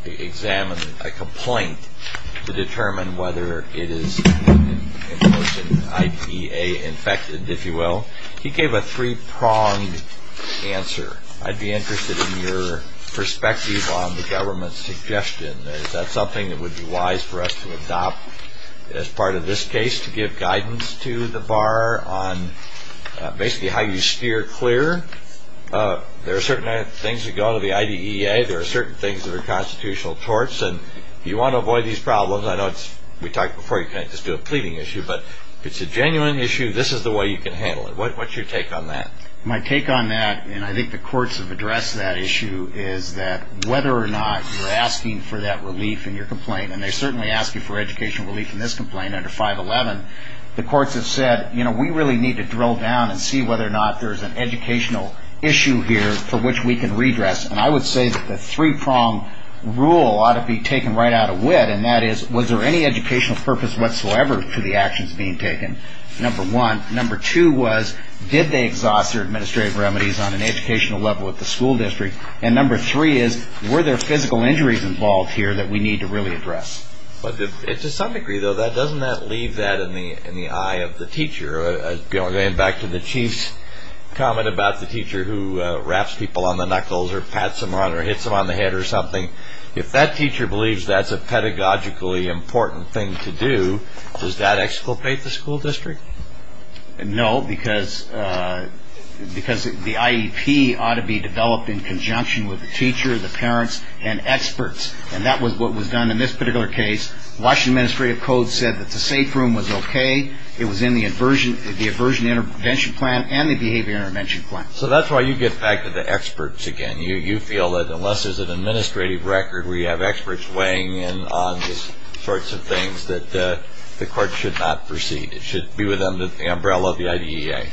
examine a complaint to determine whether it is I.D.A. infected, if you will? He gave a three-pronged answer. I'd be interested in your perspective on the government's suggestion. Is that something that would be wise for us to adopt as part of this case, to give guidance to the bar on basically how you steer clear? There are certain things you go to the I.D.E.A. There are certain things that are constitutional torts, and you want to avoid these problems. I know we talked before, you can't just do a pleading issue, but if it's a genuine issue, this is the way you can handle it. What's your take on that? My take on that, and I think the courts have addressed that issue, is that whether or not you're asking for that relief in your complaint, and they're certainly asking for education relief in this complaint under 511, the courts have said, you know, we really need to drill down and see whether or not there's an educational issue here for which we can redress. And I would say that the three-pronged rule ought to be taken right out of wit, and that is, was there any educational purpose whatsoever to the actions being taken? Number one. Number two was, did they exhaust their administrative remedies on an educational level at the school district? And number three is, were there physical injuries involved here that we need to really address? But to some degree, though, doesn't that leave that in the eye of the teacher? Going back to the chief's comment about the teacher who raps people on the knuckles or pats them on the head or something, if that teacher believes that's a pedagogically important thing to do, does that exculpate the school district? No, because the IEP ought to be developed in conjunction with the teacher, the parents, and experts. And that was what was done in this particular case. Washington Administrative Code said that the safe room was okay. It was in the aversion intervention plan and the behavior intervention plan. So that's why you get back to the experts again. You feel that unless there's an administrative record where you have experts weighing in on these sorts of things that the court should not proceed. It should be within the umbrella of the IDEA.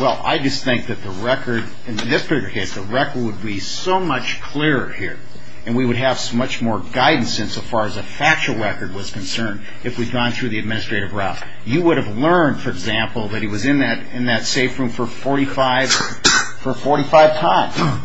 Well, I just think that the record in this particular case, the record would be so much clearer here, and we would have much more guidance insofar as a factual record was concerned if we'd gone through the administrative route. You would have learned, for example, that he was in that safe room for 45 times.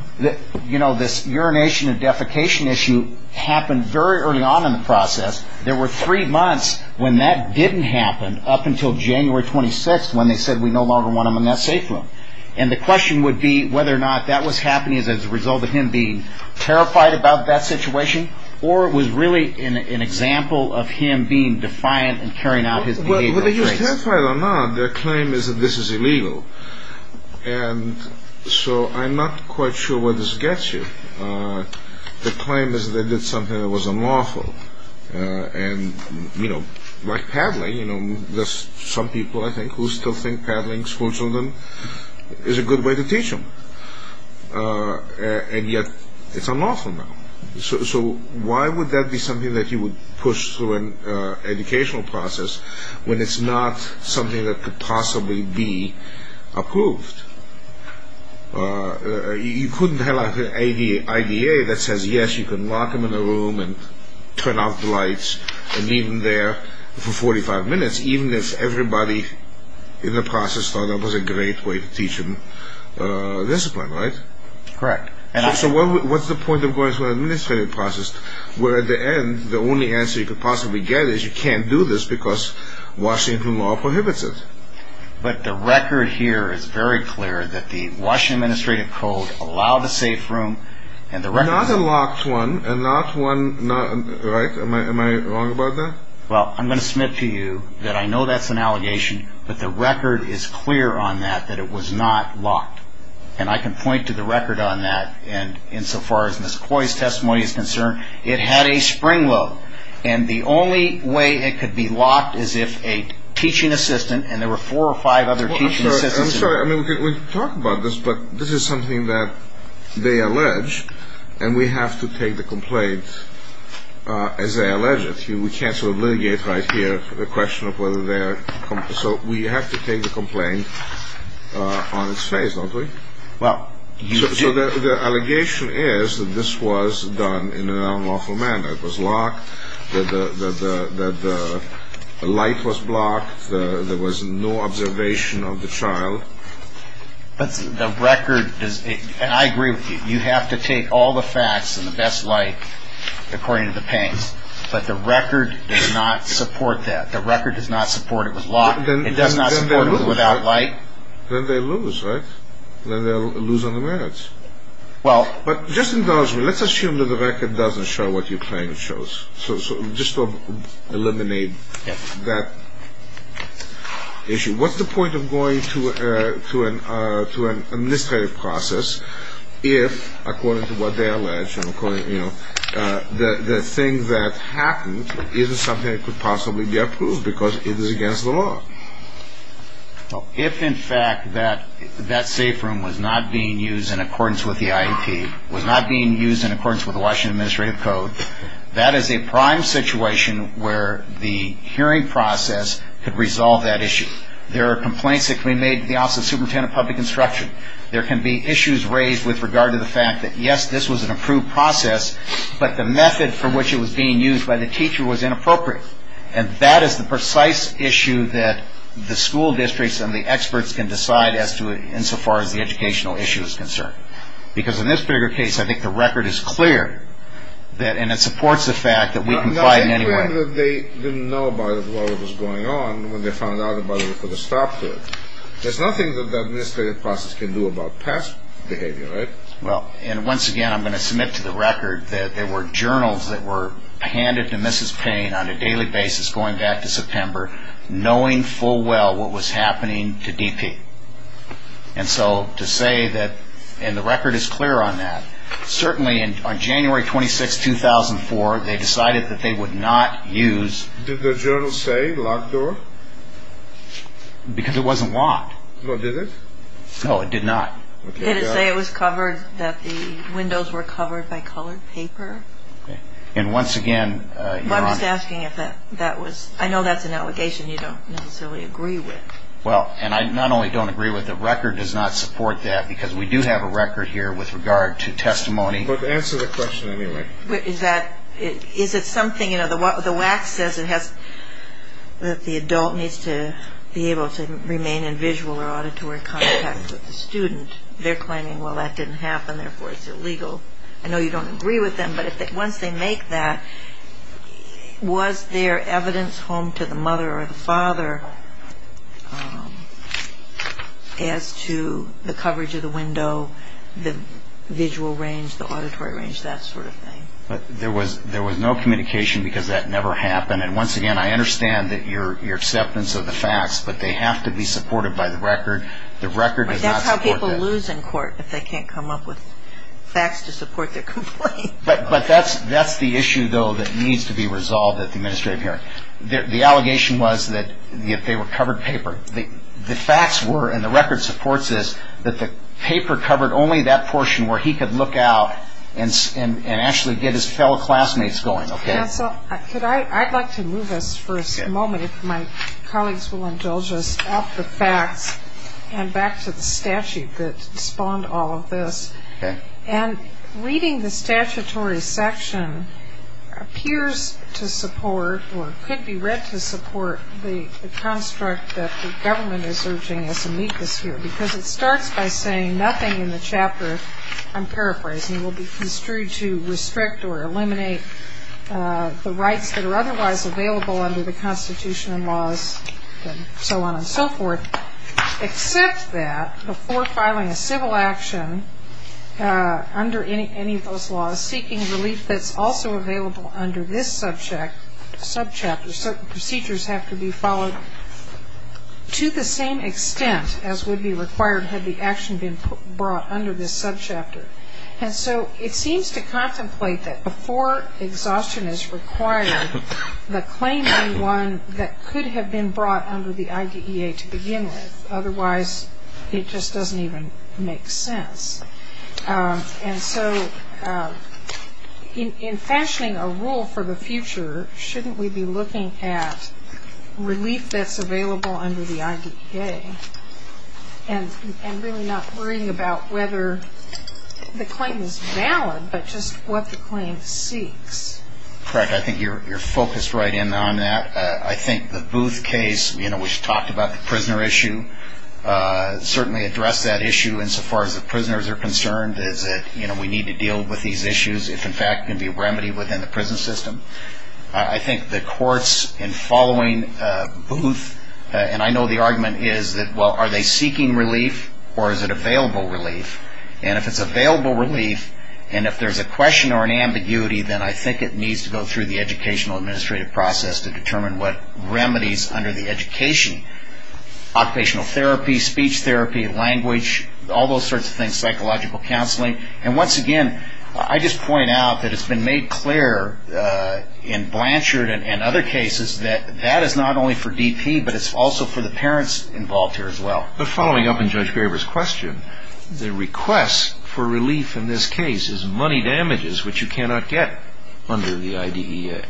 You know, this urination and defecation issue happened very early on in the process. There were three months when that didn't happen up until January 26th when they said, we no longer want him in that safe room. And the question would be whether or not that was happening as a result of him being terrified about that situation or it was really an example of him being defiant and carrying out his behavior. Whether he was terrified or not, their claim is that this is illegal. And so I'm not quite sure where this gets you. The claim is that they did something that was unlawful. And, you know, like paddling. There's some people, I think, who still think paddling schoolchildren is a good way to teach them. And yet it's unlawful now. So why would that be something that you would push through an educational process when it's not something that could possibly be approved? You couldn't have an IDA that says, yes, you can lock him in a room and turn off the lights and leave him there for 45 minutes even if everybody in the process thought that was a great way to teach him discipline, right? Correct. So what's the point of going through an administrative process where at the end the only answer you could possibly get is you can't do this because washing room law prohibits it? But the record here is very clear that the washing administrative codes allow the safe room and the record... Not a locked one, right? Am I wrong about that? Well, I'm going to submit to you that I know that's an allegation, but the record is clear on that that it was not locked. And I can point to the record on that. And insofar as Ms. Coy's testimony is concerned, it had a spring load. And the only way it could be locked is if a teaching assistant and there were four or five other teaching assistants... I'm sorry. I mean, we can talk about this, but this is something that they allege, and we have to take the complaint as they allege it. We can't sort of litigate right here the question of whether they're... So we have to take the complaint on its face, don't we? So the allegation is that this was done in an unlawful manner. It was locked, the light was blocked, there was no observation of the child. But the record... And I agree with you. You have to take all the facts and the best light according to the pain. But the record does not support that. The record does not support it was locked. It does not support it without light. Then they lose, right? Then they lose on the merits. But just indulge me. Let's assume that the record doesn't show what you claim it shows. So just to eliminate that issue. What's the point of going through an administrative process if, according to what they allege, the thing that happened isn't something that could possibly be approved because it is against the law? If, in fact, that safe room was not being used in accordance with the IEP, was not being used in accordance with Washington Administrative Code, that is a prime situation where the hearing process could resolve that issue. There are complaints that can be made to the Office of Superintendent of Public Instruction. There can be issues raised with regard to the fact that, yes, this was an approved process, but the method for which it was being used by the teacher was inappropriate. And that is the precise issue that the school districts and the experts can decide as to, insofar as the educational issue is concerned. Because in this particular case, I think the record is clear. And it supports the fact that we can find anyone... No, the thing that they didn't know about while it was going on, when they found out about it, there's nothing that the administrative process can do about past behavior, right? Well, and once again, I'm going to submit to the record that there were journals that were handed to Mrs. Payne on a daily basis going back to September, knowing full well what was happening to DP. And so, to say that... and the record is clear on that. Certainly, on January 26, 2004, they decided that they would not use... Did the journal say locked door? Because it wasn't locked. Well, did it? No, it did not. Did it say it was covered, that the windows were covered by colored paper? And once again... I'm just asking if that was... I know that's an allegation you don't necessarily agree with. Well, and I not only don't agree with the record, it does not support that because we do have a record here with regard to testimony. But answer the question anyway. Is that... is it something... you know, the WAC says it has... that the adult needs to be able to remain in visual or auditory contact with the student. They're claiming, well, that didn't happen, therefore it's illegal. I know you don't agree with them, but once they make that, as to the coverage of the window, the visual range, the auditory range, that sort of thing. But there was no communication because that never happened. And once again, I understand that your acceptance of the facts, but they have to be supported by the record. The record does not support that. But that's how people lose in court if they can't come up with facts to support their complaint. But that's the issue, though, that needs to be resolved at the administrative hearing. The allegation was that they were covered paper. The facts were, and the record supports this, that the paper covered only that portion where he could look out and actually get his fellow classmates going. I'd like to move us for a moment, if my colleagues will indulge us, off the facts and back to the statute that spawned all of this. And reading the statutory section appears to support, or could be read to support, the construct that the government is urging us to meet this year. Because it starts by saying nothing in the chapter, I'm paraphrasing, will be construed to restrict or eliminate the rights that are otherwise available under the constitutional laws, and so on and so forth, except that before filing a civil action under any of those laws, seeking relief that's also available under this subchapter, certain procedures have to be followed to the same extent as would be required had the action been brought under this subchapter. And so it seems to contemplate that before exhaustion is required, the claim should be one that could have been brought under the IDEA to begin with. Otherwise, it just doesn't even make sense. And so in fashioning a rule for the future, shouldn't we be looking at relief that's available under the IDEA, and really not worrying about whether the claim is valid, but just what the claim seeks? Correct. I think you're focused right in on that. I think the Booth case, you know, which talked about the prisoner issue, certainly addressed that issue insofar as the prisoners are concerned, is that, you know, we need to deal with these issues. It, in fact, can be remedied within the prison system. I think the courts, in following Booth, and I know the argument is that, well, are they seeking relief, or is it available relief? And if it's available relief, and if there's a question or an ambiguity, then I think it needs to go through the educational administrative process to determine what remedies under the education, occupational therapy, speech therapy, language, all those sorts of things, psychological counseling. And once again, I just point out that it's been made clear in Blanchard and other cases that that is not only for DP, but it's also for the parents involved here as well. But following up on Judge Graber's question, the request for relief in this case is money damages, which you cannot get under the IDEA.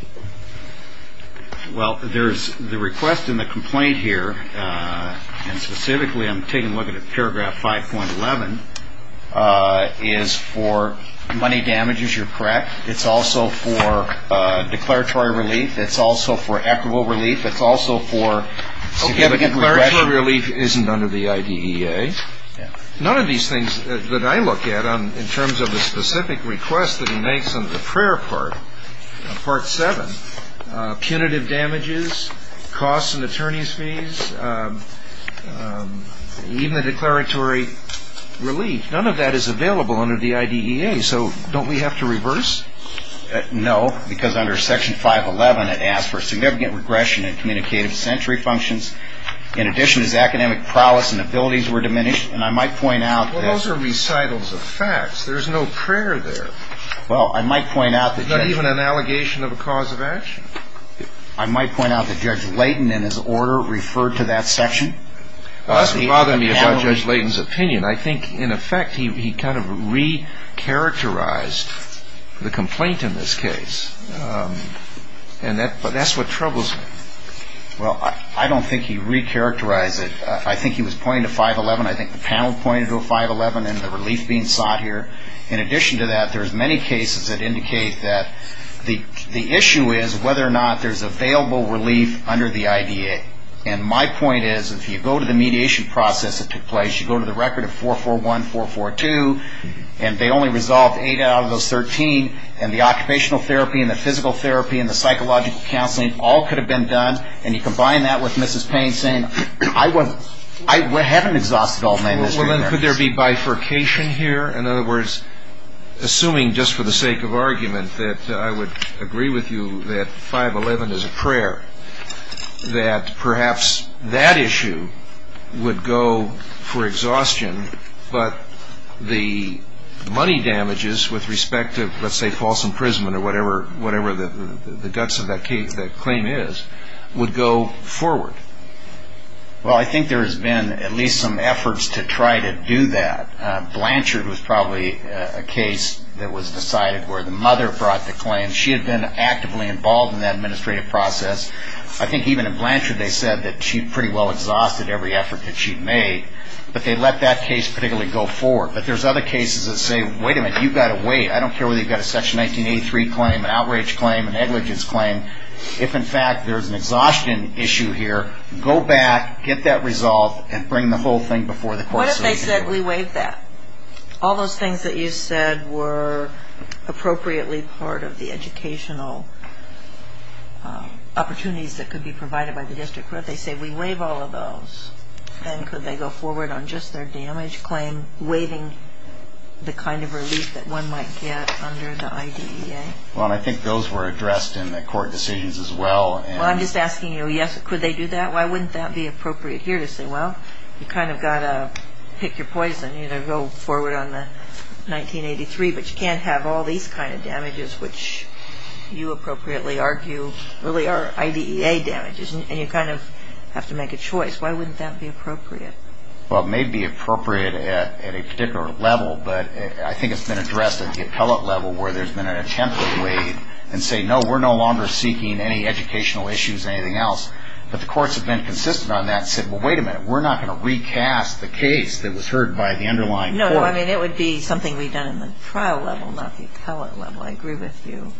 Well, there's the request and the complaint here, and specifically I'm taking a look at paragraph 5.11, is for money damages, you're correct. It's also for declaratory relief. It's also for equitable relief. It's also for declaratory relief isn't under the IDEA. None of these things that I look at in terms of the specific request that he makes in the prayer part, part 7, punitive damages, costs of attorney's fees, even the declaratory relief, none of that is available under the IDEA, so don't we have to reverse? No, because under section 5.11 it asks for significant regression in communicative sensory functions. In addition, his academic prowess and abilities were diminished, and I might point out that... Well, those are recitals of facts. There's no prayer there. Well, I might point out that... Not even an allegation of a cause of action. I might point out that Judge Layton, in his order, referred to that section. It's a problem about Judge Layton's opinion. I think, in effect, he kind of re-characterized the complaint in this case, and that's what troubles me. Well, I don't think he re-characterized it. I think he was pointing to 5.11. I think the panel pointed to a 5.11 and the relief being sought here. In addition to that, there's many cases that indicate that the issue is whether or not there's available relief under the IDEA, and my point is, if you go to the mediation process that took place, you go to the record of 4.41, 4.42, and they only resolved 8 out of those 13, and the occupational therapy and the physical therapy and the psychological counseling, all could have been done, and you combine that with Mrs. Payne saying, I haven't exhausted all my misery there. Well, then, could there be bifurcation here? In other words, assuming, just for the sake of argument, that I would agree with you that 5.11 is a prayer, that perhaps that issue would go for exhaustion, but the money damages with respect to, let's say, false imprisonment or whatever the guts of that claim is, would go forward. Well, I think there's been at least some efforts to try to do that. Blanchard was probably a case that was decided where the mother brought the claim. She had been actively involved in that administrative process. I think even in Blanchard they said that she'd pretty well exhausted every effort that she'd made, but they let that case particularly go forward. But there's other cases that say, wait a minute, you've got to wait. I don't care whether you've got a Section 1983 claim, an outrage claim, a negligence claim. If, in fact, there's an exhaustion issue here, go back, get that resolved, and bring the whole thing before the courts. What if they said we wait that? All those things that you said were appropriately part of the educational opportunities that could be provided by the district court. What if they say we waive all of those? And could they go forward on just their damage claim, waiving the kind of relief that one might get under the IDEA? Well, I think those were addressed in the court decisions as well. Well, I'm just asking you, yes, could they do that? Why wouldn't that be appropriate here? Well, you kind of got to pick your poison, you know, go forward on the 1983, but you can't have all these kind of damages, which you appropriately argue really are IDEA damages, and you kind of have to make a choice. Why wouldn't that be appropriate? Well, it may be appropriate at a particular level, but I think it's been addressed at the appellate level where there's been an attempt to waive and say, no, we're no longer seeking any educational issues or anything else. But the courts have been consistent on that and said, well, wait a minute, we're not going to recast the case that was heard by the underlying court. No, I mean, it would be something we've done in the trial level, not the appellate level. I agree with you.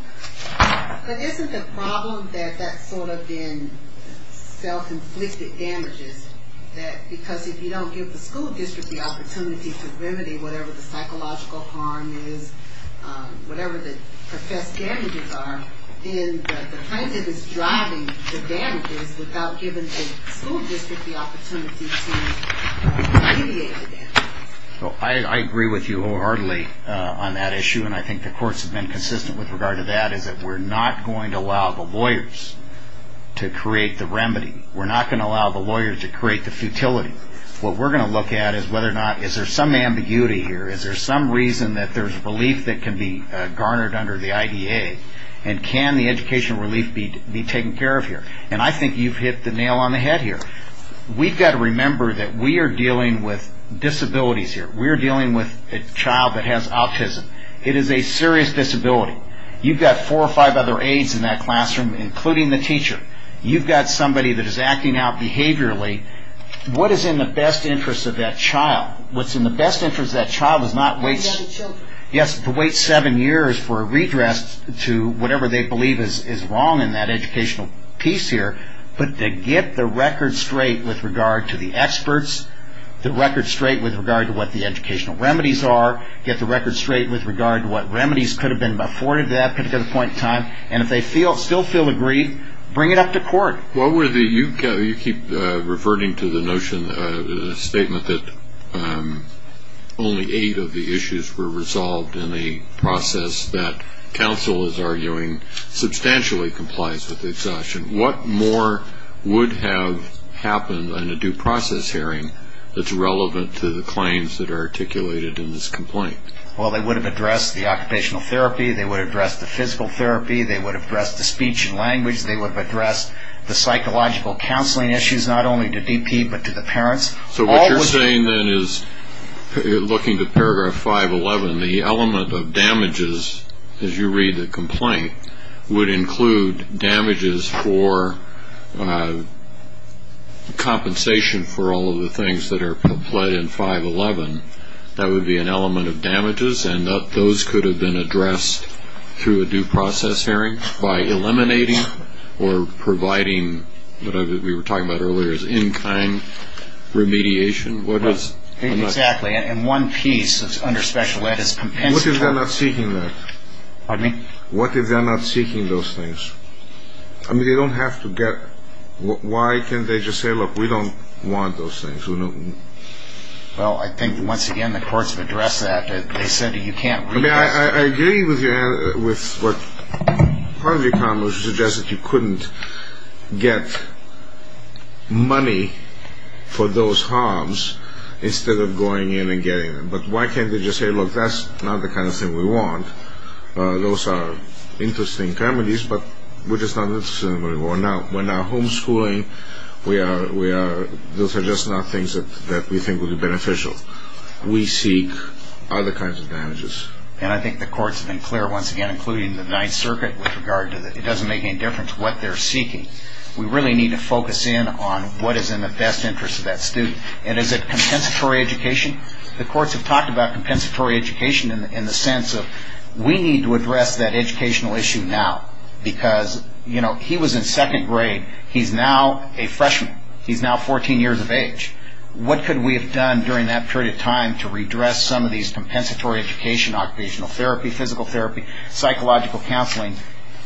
But isn't the problem that that's sort of been self-inflicted damages, because if you don't give the school district the opportunity to remedy whatever the psychological harm is, whatever the assessed damages are, is that the plaintiff is driving the damages without giving the school district the opportunity to mediate against them. So I agree with you wholeheartedly on that issue, and I think the courts have been consistent with regard to that, is that we're not going to allow the lawyers to create the remedy. We're not going to allow the lawyers to create the futility. What we're going to look at is whether or not, is there some ambiguity here? Is there some reason that there's a belief that can be garnered under the IDA? And can the education relief be taken care of here? And I think you've hit the nail on the head here. We've got to remember that we are dealing with disabilities here. We are dealing with a child that has autism. It is a serious disability. You've got four or five other aides in that classroom, including the teacher. You've got somebody that is acting out behaviorally. What is in the best interest of that child? What's in the best interest of that child is not to wait seven years for a redress to whatever they believe is wrong in that educational piece here, but to get the record straight with regard to the experts, the record straight with regard to what the educational remedies are, get the record straight with regard to what remedies could have been afforded at that particular point in time, and if they still feel agreed, bring it up to court. You keep reverting to the notion, the statement that only eight of the issues were resolved in the process, that counsel is arguing substantially compliance with exhaustion. What more would have happened in a due process hearing that's relevant to the claims that are articulated in this complaint? Well, they would have addressed the occupational therapy. They would have addressed the physical therapy. They would have addressed the speech and language. They would have addressed the psychological counseling issues, not only to DP but to the parents. So what you're saying then is, looking to paragraph 511, the element of damages, as you read the complaint, would include damages for compensation for all of the things that are in 511. And those could have been addressed through a due process hearing by eliminating or providing what we were talking about earlier, as in-kind remediation? Exactly. And one piece that's under special ed is compensation. What if they're not seeking that? Pardon me? What if they're not seeking those things? I mean, they don't have to get ‑‑ why can't they just say, look, we don't want those things? Well, I think, once again, the courts have addressed that. They said that you can't ‑‑ I mean, I agree with you with part of your problem, which is just that you couldn't get money for those harms instead of going in and getting them. But why can't they just say, look, that's not the kind of thing we want? Those are interesting remedies, but we're just not interested in them anymore. We're not homeschooling. Those are just not things that we think would be beneficial. We seek other kinds of damages. And I think the courts have been clear, once again, including the Ninth Circuit, with regard to it doesn't make any difference what they're seeking. We really need to focus in on what is in the best interest of that student. And is it compensatory education? The courts have talked about compensatory education in the sense of we need to address that educational issue now, because, you know, he was in second grade. He's now a freshman. He's now 14 years of age. What could we have done during that period of time to redress some of these compensatory education, occupational therapy, physical therapy, psychological counseling?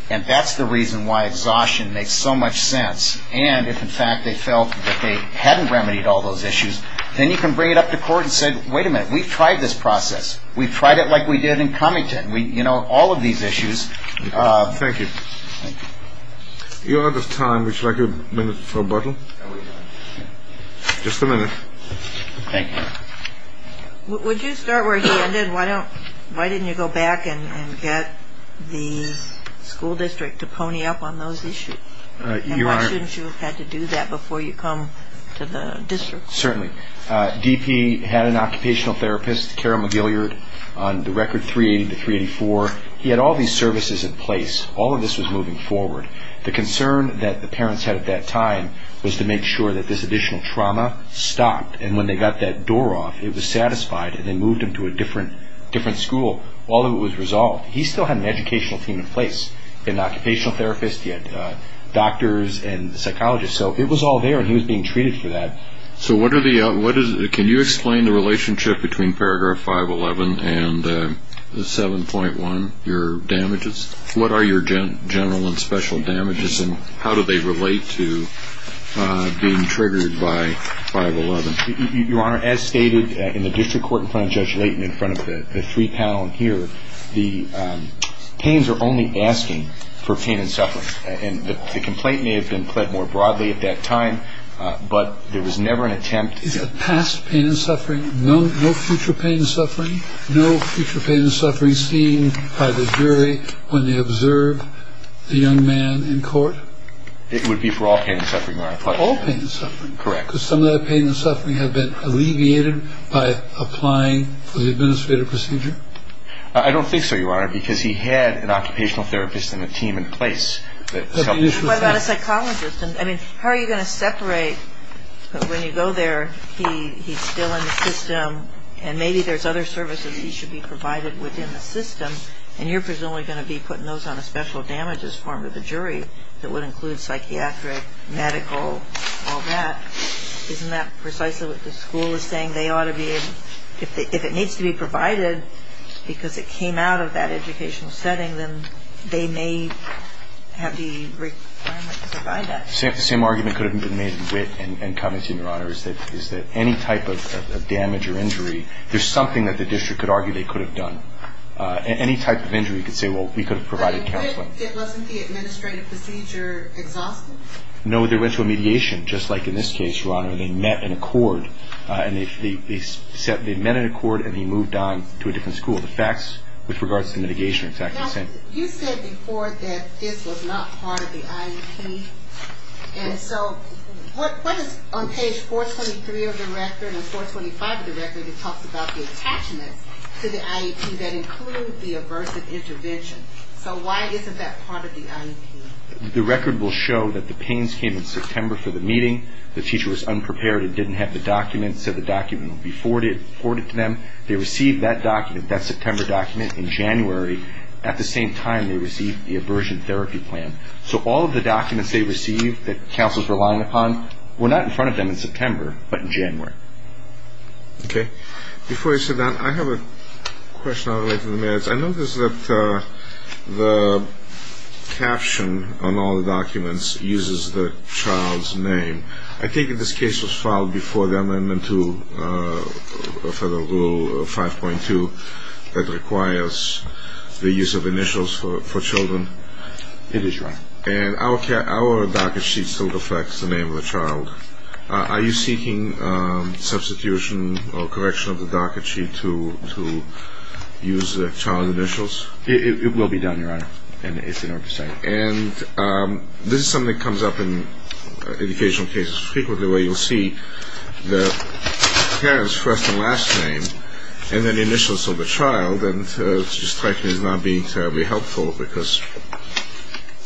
And that's the reason why exhaustion makes so much sense. And if, in fact, they felt that they hadn't remedied all those issues, then you can bring it up to court and say, wait a minute, we've tried this process. We've tried it like we did in Cunnington. You know, all of these issues. Thank you. You have the time. Would you like a minute to rebuttal? Just a minute. Thank you. Would you start where you ended? Why didn't you go back and get the school district to pony up on those issues? And how soon should you have had to do that before you come to the district? Certainly. DP had an occupational therapist, Cara Magillard, on the record 380 to 384. He had all these services in place. All of this was moving forward. The concern that the parents had at that time was to make sure that this additional trauma stopped. And when they got that door off, it was satisfied, and they moved him to a different school. All of it was resolved. He still had an educational team in place. He had an occupational therapist. He had doctors and psychologists. So it was all there, and he was being treated for that. So can you explain the relationship between Paragraph 511 and 7.1, your damages? What are your general and special damages, and how do they relate to being triggered by 511? Your Honor, as stated in the district court in front of Judge Layton, in front of the three panel here, the teens are only asking for pain and suffering. The complaint may have been pled more broadly at that time, but there was never an attempt. Past pain and suffering, no future pain and suffering? No future pain and suffering seen by the jury when they observed the young man in court? It would be for all pain and suffering, Your Honor. All pain and suffering? Correct. Because some of that pain and suffering had been alleviated by applying for the administrative procedure? I don't think so, Your Honor. Because he had an occupational therapist and a team in place. What about a psychologist? I mean, how are you going to separate when you go there, he's still in the system, and maybe there's other services he should be provided within the system, and you're presumably going to be putting those on a special damages form to the jury that would include psychiatric, medical, all that. Isn't that precisely what the school is saying? If it needs to be provided because it came out of that educational setting, then they may have the requirement to provide that. The same argument could have been made with and coming to you, Your Honor, is that any type of damage or injury, there's something that the district could argue they could have done. Any type of injury could say, well, we could have provided counseling. It wasn't the administrative procedure itself? No, there went to a mediation, just like in this case, Your Honor, where they met in accord and they moved on to a different school. The facts with regards to mitigation are exactly the same. You said before that this was not part of the IEP, and so what is on page 423 of the record and 425 of the record that talks about the attachment to the IEP that includes the aversive intervention? So why isn't that part of the IEP? The record will show that the pains came in September for the meeting, the teacher was unprepared and didn't have the document, said the document would be forwarded to them. They received that document, that September document, in January. At the same time, they received the aversion therapy plan. So all of the documents they received that counselors were relying upon were not in front of them in September but in January. Okay. Before you say that, I have a question I'll write in the minutes. I noticed that the caption on all the documents uses the child's name. I think in this case it was filed before the amendment to Federal Rule 5.2 that requires the use of initials for children. And our docket sheet still reflects the name of the child. Are you seeking substitution or correction of the docket sheet to use the child's initials? It will be done, Your Honor, if you don't mind me saying. And this is something that comes up in educational cases frequently where you'll see the parent's first and last name and then the initials of the child, and correction is not being terribly helpful because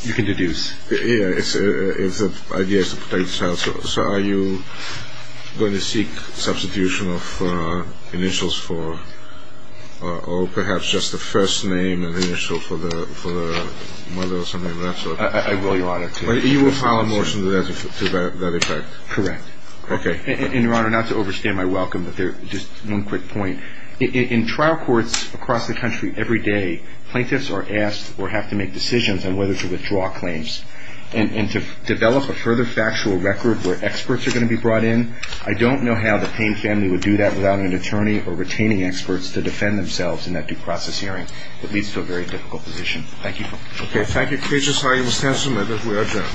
you can deduce. Yes, if the idea is to take the child. So are you going to seek substitution of initials for, or perhaps just the first name and initial for the mother or something of that sort? I will, Your Honor. You will file a motion to that effect? Correct. Okay. And, Your Honor, not to overstate my welcome, but just one quick point. In trial courts across the country every day, plaintiffs are asked or have to make decisions on whether to withdraw claims. And to develop a further factual record where experts are going to be brought in, I don't know how the Payne family would do that without an attorney or retaining experts to defend themselves in that due process hearing. It leads to a very difficult position. Thank you. Okay. Thank you. Appreciate your time, Mr. Counselor. Members, we are adjourned.